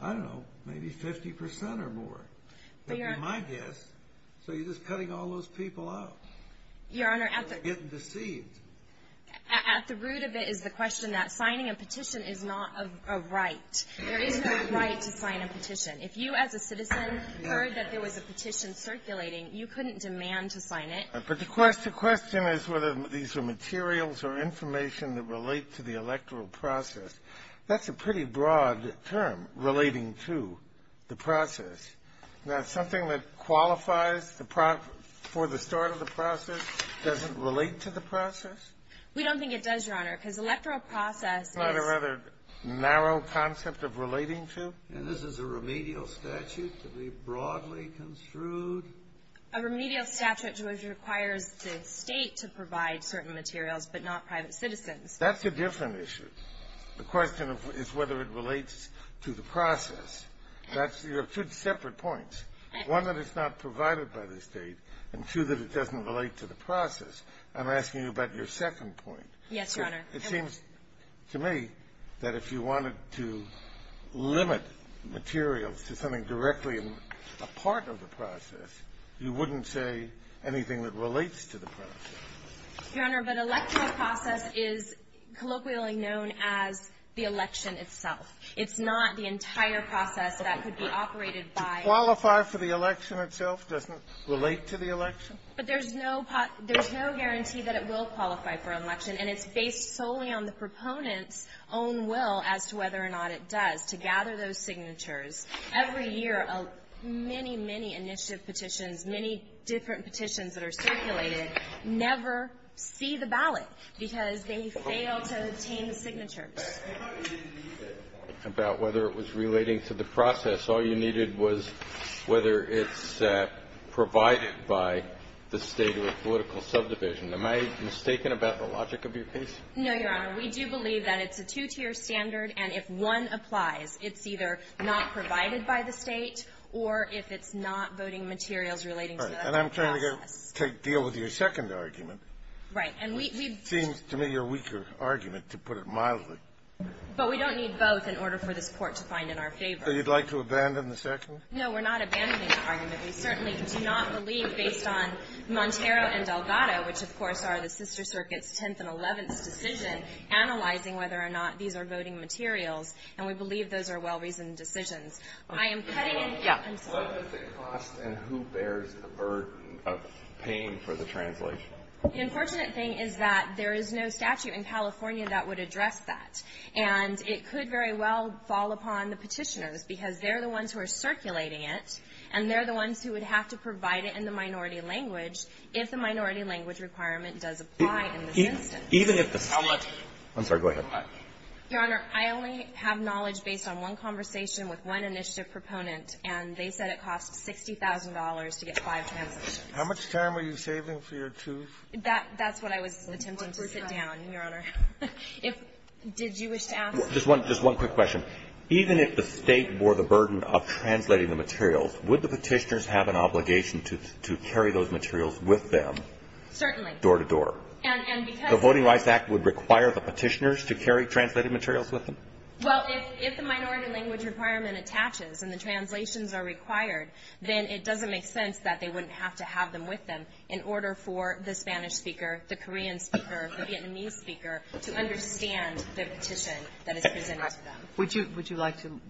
I don't know, maybe 50% or more. But my guess, so you're just cutting all those people out. Your Honor, at the... You're getting deceived. At the root of it is the question that signing a petition is not a right. There is no right to sign a petition. If you as a citizen heard that there was a petition circulating, you couldn't demand to sign it. But the question is whether these are materials or information that relate to the electoral process. That's a pretty broad term, relating to the process. Now, something that qualifies for the start of the process doesn't relate to the process? We don't think it does, Your Honor, because electoral process is... And this is a remedial statute to be broadly construed? A remedial statute requires the State to provide certain materials, but not private citizens. That's a different issue. The question is whether it relates to the process. That's two separate points. One, that it's not provided by the State, and two, that it doesn't relate to the process. Yes, Your Honor. It seems to me that if you wanted to limit materials to something directly a part of the process, you wouldn't say anything that relates to the process. Your Honor, but electoral process is colloquially known as the election itself. It's not the entire process that could be operated by... To qualify for the election itself doesn't relate to the election? But there's no guarantee that it will qualify for election, and it's based solely on the proponent's own will as to whether or not it does. To gather those signatures, every year, many, many initiative petitions, many different petitions that are circulated, never see the ballot because they fail to obtain the signatures. About whether it was relating to the process, all you needed was whether it's provided by the State or a political subdivision. Am I mistaken about the logic of your case? No, Your Honor. We do believe that it's a two-tier standard, and if one applies, it's either not provided by the State or if it's not voting materials relating to the process. All right. And I'm trying to go deal with your second argument. Right. It seems to me your weaker argument, to put it mildly. But we don't need both in order for this Court to find in our favor. So you'd like to abandon the second? No, we're not abandoning the argument. We certainly do not believe, based on Montero and Delgado, which, of course, are the Sister Circuit's 10th and 11th's decision, analyzing whether or not these are voting materials. And we believe those are well-reasoned decisions. I am cutting in. Yeah. I'm sorry. What is the cost, and who bears the burden of paying for the translation? The unfortunate thing is that there is no statute in California that would address that, and it could very well fall upon the Petitioners, because they're the ones who are circulating it, and they're the ones who would have to provide it in the minority language if the minority language requirement does apply in this instance. I'm sorry. Go ahead. Your Honor, I only have knowledge based on one conversation with one initiative proponent, and they said it costs $60,000 to get five translations. How much time are you saving for your two? That's what I was attempting to sit down, Your Honor. Did you wish to ask? Just one quick question. Even if the State bore the burden of translating the materials, would the Petitioners have an obligation to carry those materials with them? Certainly. Door to door. And because The Voting Rights Act would require the Petitioners to carry translated materials with them? Well, if the minority language requirement attaches and the translations are required, then it doesn't make sense that they wouldn't have to have them with them in order for the Spanish speaker, the Korean speaker, the Vietnamese speaker to understand the petition that is presented to them. Would you like to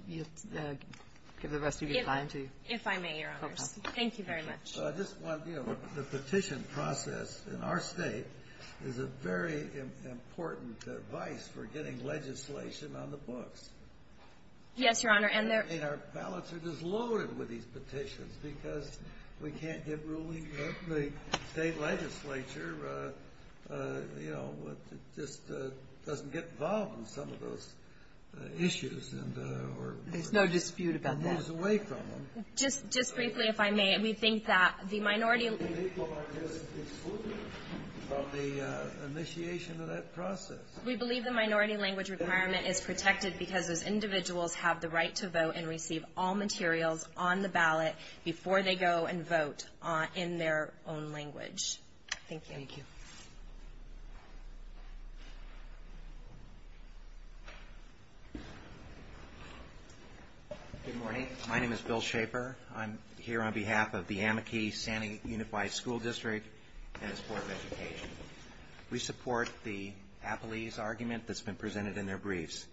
give the rest of your time to you? If I may, Your Honors. Okay. Thank you very much. I just want, you know, the petition process in our State is a very important device for getting legislation on the books. Yes, Your Honor. And our ballots are just loaded with these petitions because we can't get ruling The State legislature, you know, just doesn't get involved in some of those issues. There's no dispute about that. It moves away from them. Just briefly, if I may. We think that the minority People are just excluded from the initiation of that process. We believe the minority language requirement is protected because those individuals have the right to vote and receive all materials on the ballot before they go and vote in their own language. Thank you. Thank you. Good morning. My name is Bill Shaper. I'm here on behalf of the Amici-Santa Unified School District and its Board of Education. We support the Appalese argument that's been presented in their briefs.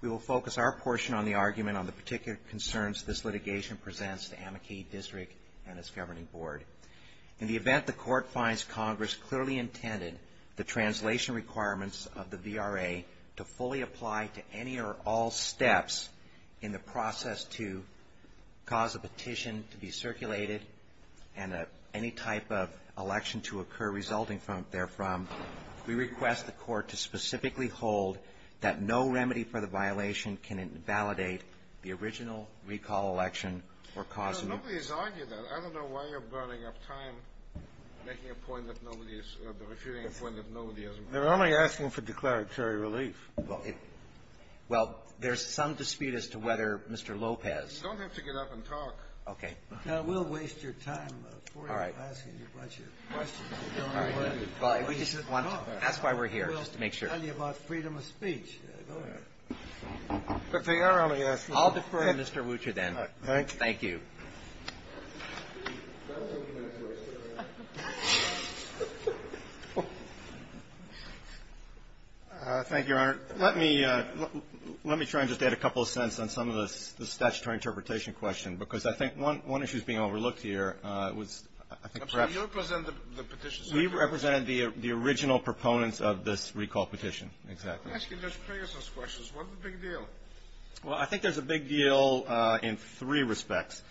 We will focus our portion on the argument on the particular concerns this litigation presents to Amici District and its governing board. In the event the court finds Congress clearly intended the translation requirements of the VRA to fully apply to any or all steps in the process to cause a petition to be circulated and any type of election to occur resulting from therefrom, we request the court to specifically hold that no remedy for the violation can invalidate the original recall election or cause a new one. Nobody has argued that. I don't know why you're burning up time making a point that nobody is or refuting a point that nobody has made. They're only asking for declaratory relief. Well, it – well, there's some dispute as to whether Mr. Lopez – You don't have to get up and talk. Okay. Now, we'll waste your time for you asking a bunch of questions. All right. Well, we just want – that's why we're here, just to make sure. We'll tell you about freedom of speech. Go ahead. But they are only asking – I'll defer to Mr. Wucher then. Thank you. Thank you. Thank you, Your Honor. Let me – let me try and just add a couple of cents on some of the statutory interpretation question because I think one issue is being overlooked here. It was – I think perhaps – You represented the petition. We represented the original proponents of this recall petition. Exactly. I'm asking just previous questions. What's the big deal? Well, I think there's a big deal in three respects.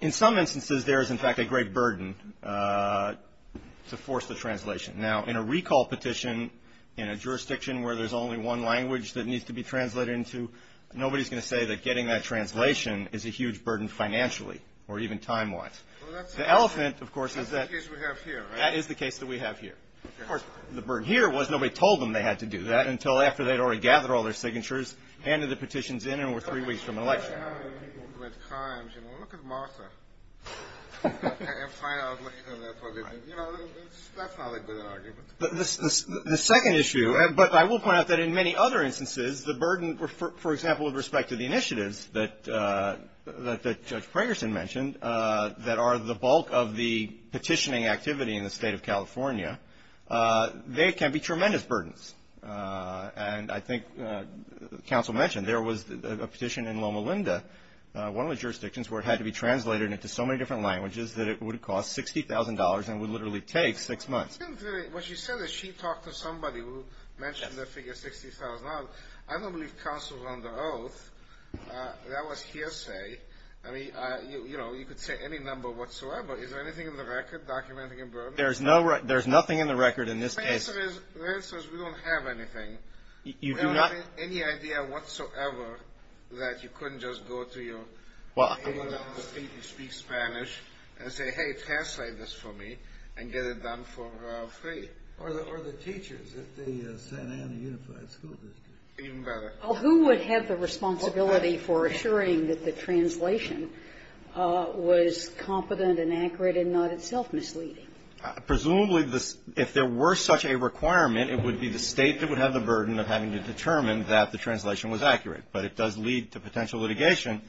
In some instances, there is, in fact, a great burden to force the translation. Now, in a recall petition in a jurisdiction where there's only one language that needs to be translated into, nobody's going to say that getting that translation is a huge burden financially or even time-wise. The elephant, of course, is that – That's the case we have here, right? That is the case that we have here. Of course, the burden here was nobody told them they had to do that until after they'd already gathered all their signatures, handed the petitions in, and were three weeks from an election. Look at Martha and find out what – you know, that's not a good argument. The second issue, but I will point out that in many other instances, the burden, for example, with respect to the initiatives that Judge Pragerson mentioned that are the bulk of the petitioning activity in the state of California, they can be tremendous burdens. And I think counsel mentioned there was a petition in Loma Linda, one of the jurisdictions where it had to be translated into so many different languages that it would cost $60,000 and would literally take six months. What she said is she talked to somebody who mentioned the figure $60,000. I don't believe counsel is under oath. That was hearsay. I mean, you know, you could say any number whatsoever. Is there anything in the record documenting a burden? There's nothing in the record in this case. The answer is we don't have anything. You do not have any idea whatsoever that you couldn't just go to your – Well, who would have the responsibility for assuring that the translation was competent and accurate and not itself misleading? Presumably, if there were such a requirement, it would be the State that would have the burden of having to determine that the translation was accurate. But it does lead to potential litigation.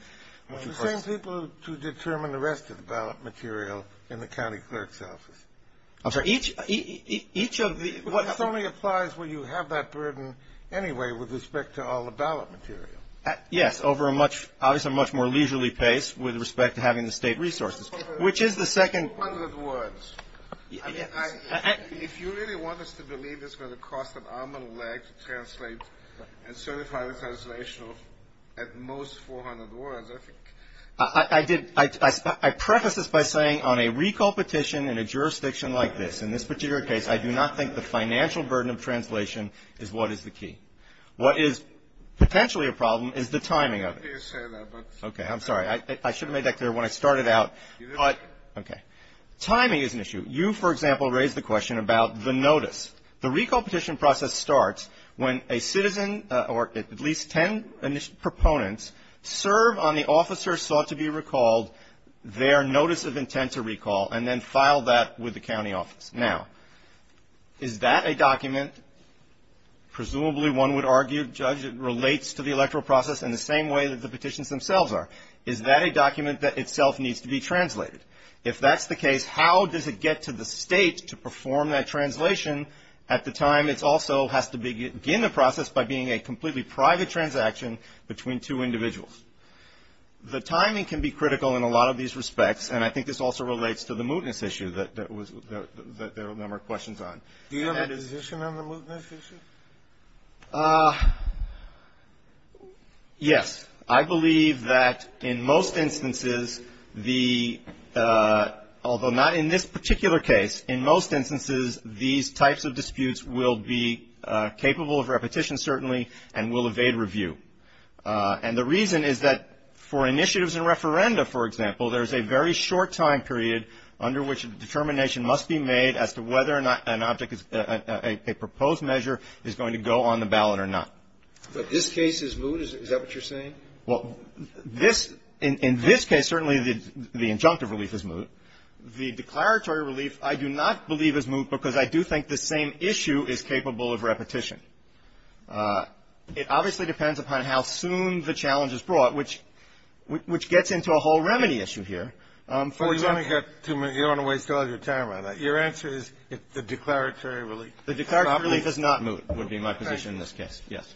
It's the same people who determine the rest of the ballot material in the county clerk's office. I'm sorry, each of the – But this only applies when you have that burden anyway with respect to all the ballot material. Yes, over a much – obviously, a much more leisurely pace with respect to having the State resources, which is the second – 400 words. If you really want us to believe it's going to cost an arm and a leg to translate and certify the translation of at most 400 words, I think – I did – I preface this by saying on a recall petition in a jurisdiction like this, in this particular case, I do not think the financial burden of translation is what is the key. What is potentially a problem is the timing of it. I'm happy to say that, but – Okay, I'm sorry. I should have made that clear when I started out. But – okay. Timing is an issue. You, for example, raised the question about the notice. The recall petition process starts when a citizen or at least ten proponents serve on the officer's sought-to-be-recalled, their notice of intent to recall, and then file that with the county office. Now, is that a document – presumably one would argue, Judge, it relates to the electoral process in the same way that the petitions themselves are. Is that a document that itself needs to be translated? If that's the case, how does it get to the State to perform that translation at the time it also has to begin the process by being a completely private transaction between two individuals? The timing can be critical in a lot of these respects, and I think this also relates to the mootness issue that there were a number of questions on. Do you have a position on the mootness issue? Yes. I believe that in most instances the – although not in this particular case, in most instances these types of disputes will be capable of repetition certainly and will evade review. And the reason is that for initiatives and referenda, for example, there's a very short time period under which a determination must be made as to whether an object is – a proposed measure is going to go on the ballot or not. But this case is moot? Is that what you're saying? Well, this – in this case, certainly the injunctive relief is moot. The declaratory relief I do not believe is moot because I do think the same issue is capable of repetition. It obviously depends upon how soon the challenge is brought, which gets into a whole remedy issue here. You don't want to waste all your time on that. Your answer is the declaratory relief? The declaratory relief is not moot would be my position in this case, yes.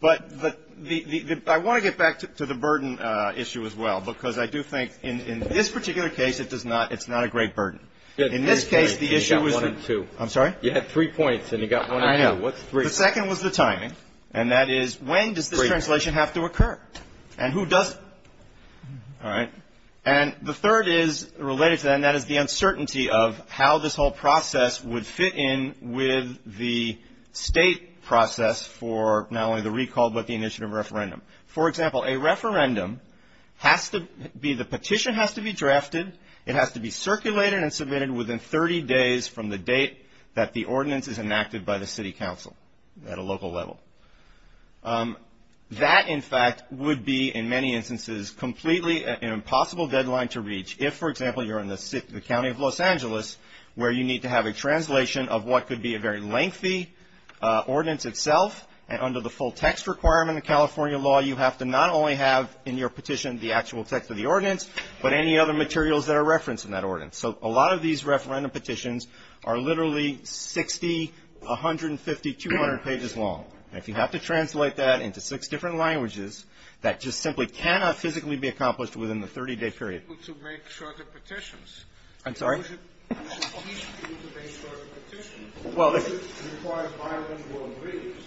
But I want to get back to the burden issue as well because I do think in this particular case it does not – it's not a great burden. In this case the issue was the – You got one and two. I'm sorry? You had three points and you got one and two. I know. What's three? The second was the timing, and that is when does this translation have to occur and who does – all right? And the third is related to that, and that is the uncertainty of how this whole process would fit in with the state process for not only the recall but the initiative referendum. For example, a referendum has to be – the petition has to be drafted. It has to be circulated and submitted within 30 days from the date that the ordinance is enacted by the city council at a local level. That, in fact, would be in many instances completely an impossible deadline to reach. If, for example, you're in the city – the county of Los Angeles where you need to have a translation of what could be a very lengthy ordinance itself and under the full text requirement of California law, you have to not only have in your petition the actual text of the ordinance but any other materials that are referenced in that ordinance. So a lot of these referendum petitions are literally 60, 150, 200 pages long. And if you have to translate that into six different languages, that just simply cannot physically be accomplished within the 30-day period. To make shorter petitions. I'm sorry? To make shorter petitions. Well, if – It requires bilingual briefs.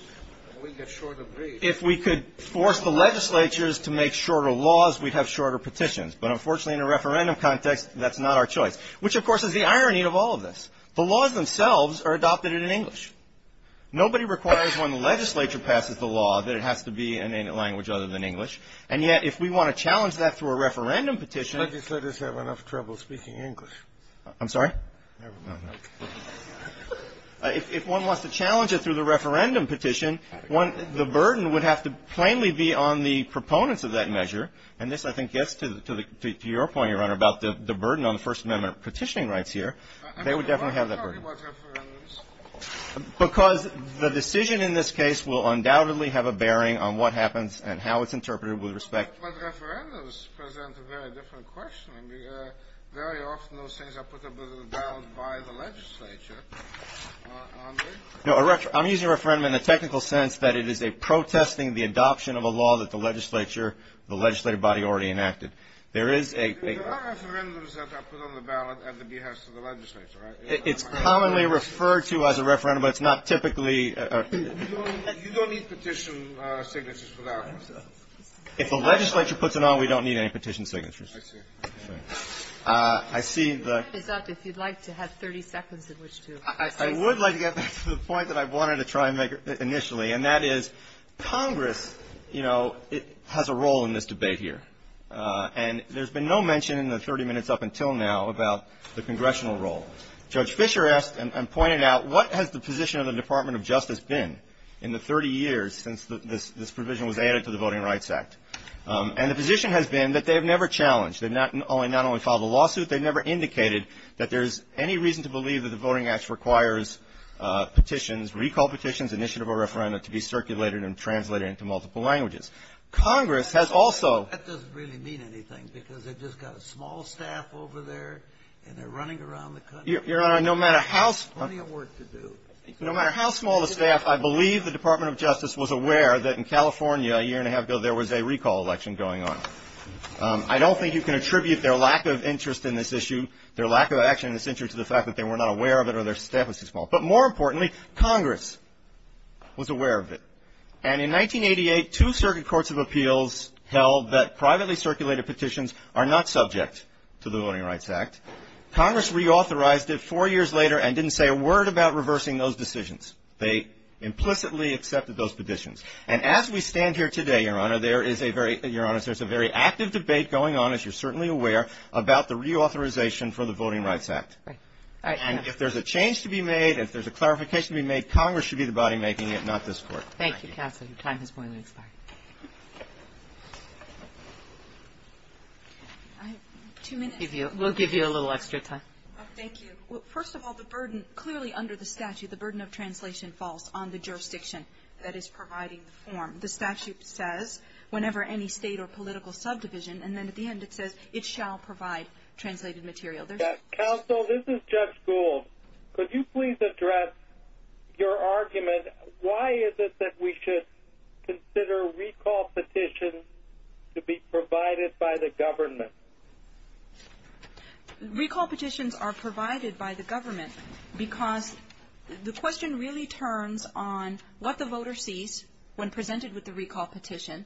We get shorter briefs. If we could force the legislatures to make shorter laws, we'd have shorter petitions. But unfortunately, in a referendum context, that's not our choice, which, of course, is the irony of all of this. The laws themselves are adopted in English. Nobody requires when the legislature passes the law that it has to be in a language other than English. And yet if we want to challenge that through a referendum petition – Legislators have enough trouble speaking English. I'm sorry? Never mind. If one wants to challenge it through the referendum petition, the burden would have to plainly be on the proponents of that measure. And this, I think, gets to your point, Your Honor, about the burden on the First Amendment petitioning rights here. They would definitely have that burden. I'm talking about referendums. Because the decision in this case will undoubtedly have a bearing on what happens and how it's interpreted with respect – But referendums present a very different question. Very often those things are put a little down by the legislature, aren't they? No, I'm using referendum in the technical sense that it is a protesting the adoption of a law that the legislature, the legislative body already enacted. There is a – There are referendums that are put on the ballot at the behest of the legislature, right? It's commonly referred to as a referendum, but it's not typically – You don't need petition signatures for that one. If the legislature puts it on, we don't need any petition signatures. I see. I see the – Your time is up. If you'd like to have 30 seconds in which to – I would like to get back to the point that I wanted to try and make initially, and that is Congress, you know, has a role in this debate here. And there's been no mention in the 30 minutes up until now about the congressional role. Judge Fischer asked and pointed out, what has the position of the Department of Justice been in the 30 years since this provision was added to the Voting Rights Act? And the position has been that they have never challenged. They've not only followed the lawsuit, they've never indicated that there's any reason to believe that the Voting Rights Act requires petitions, recall petitions, initiative or referendum, to be circulated and translated into multiple languages. Congress has also – That doesn't really mean anything, because they've just got a small staff over there and they're running around the country. Your Honor, no matter how – Plenty of work to do. No matter how small the staff, I believe the Department of Justice was aware that in California a year and a half ago there was a recall election going on. I don't think you can attribute their lack of interest in this issue, their lack of action in this issue to the fact that they were not aware of it or their staff was too small. But more importantly, Congress was aware of it. And in 1988, two circuit courts of appeals held that privately circulated petitions are not subject to the Voting Rights Act. Congress reauthorized it four years later and didn't say a word about reversing those decisions. They implicitly accepted those petitions. And as we stand here today, Your Honor, there is a very – Your Honor, there's a very active debate going on, as you're certainly aware, about the reauthorization for the Voting Rights Act. And if there's a change to be made, if there's a clarification to be made, Congress should be the body making it, not this Court. Thank you, Counsel. Your time has finally expired. I have two minutes. We'll give you a little extra time. Thank you. First of all, the burden, clearly under the statute, the burden of translation falls on the jurisdiction that is providing the form. The statute says whenever any state or political subdivision, and then at the end it says it shall provide translated material. Counsel, this is Judge Gould. Could you please address your argument, why is it that we should consider recall petitions to be provided by the government? Recall petitions are provided by the government because the question really turns on what the voter sees when presented with the recall petition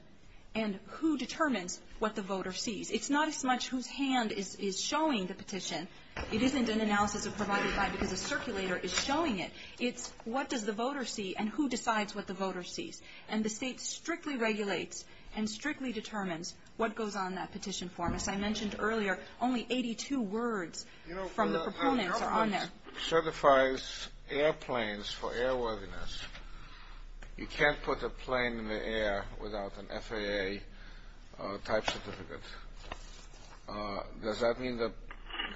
and who determines what the voter sees. It's not as much whose hand is showing the petition. It isn't an analysis of provided by because a circulator is showing it. It's what does the voter see and who decides what the voter sees. And the state strictly regulates and strictly determines what goes on in that petition form. As I mentioned earlier, only 82 words from the proponents are on there. It certifies airplanes for airworthiness. You can't put a plane in the air without an FAA-type certificate. Does that mean the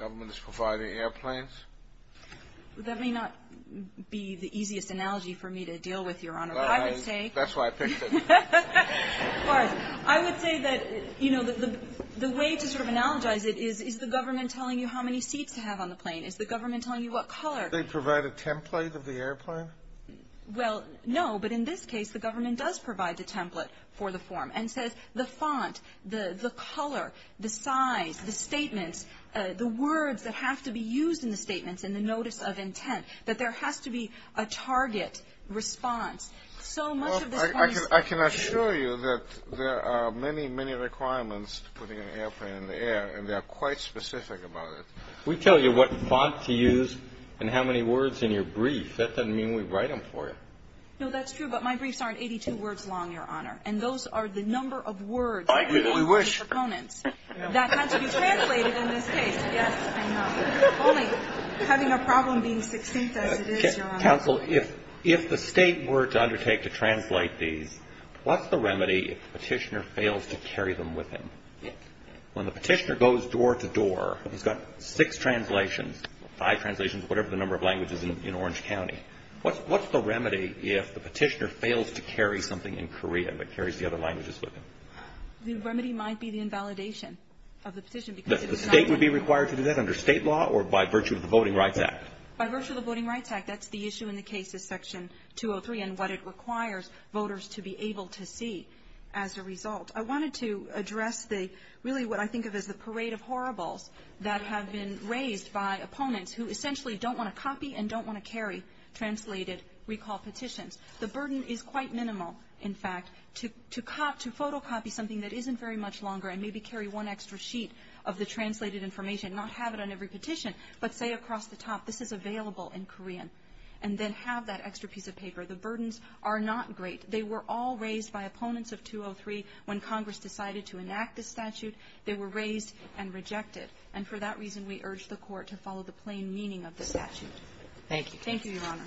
government is providing airplanes? That may not be the easiest analogy for me to deal with, Your Honor. But I would say — That's why I picked it. Of course. I would say that, you know, the way to sort of analogize it is, is the government telling you how many seats to have on the plane? Is the government telling you what color? They provide a template of the airplane? Well, no, but in this case, the government does provide the template for the form and says the font, the color, the size, the statements, the words that have to be used in the statements and the notice of intent, that there has to be a target response. So much of this — I can assure you that there are many, many requirements to putting an airplane in the air, and they are quite specific about it. We tell you what font to use and how many words in your brief. That doesn't mean we write them for you. No, that's true. But my briefs aren't 82 words long, Your Honor. And those are the number of words — I agree. We wish. — that have to be translated in this case. Yes, I know. Only having a problem being succinct as it is, Your Honor. Counsel, if the State were to undertake to translate these, what's the remedy if the Petitioner fails to carry them with him? When the Petitioner goes door to door, he's got six translations, five translations, whatever the number of languages in Orange County. What's the remedy if the Petitioner fails to carry something in Korean that carries the other languages with him? The remedy might be the invalidation of the petition. The State would be required to do that under State law or by virtue of the Voting Rights Act? By virtue of the Voting Rights Act. That's the issue in the case of Section 203 and what it requires voters to be able to see as a result. I wanted to address the — really what I think of as the parade of horribles that have been raised by opponents who essentially don't want to copy and don't want to carry translated recall petitions. The burden is quite minimal, in fact, to photocopy something that isn't very much longer and maybe carry one extra sheet of the translated information and not have it on every petition, but say across the top this is available in Korean and then have that extra piece of paper. The burdens are not great. They were all raised by opponents of 203 when Congress decided to enact the statute. They were raised and rejected. And for that reason, we urge the Court to follow the plain meaning of the statute. Thank you. Thank you, Your Honor.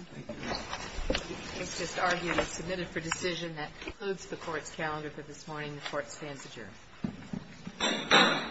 It's just argued and submitted for decision. That concludes the Court's calendar for this morning. The Court stands adjourned.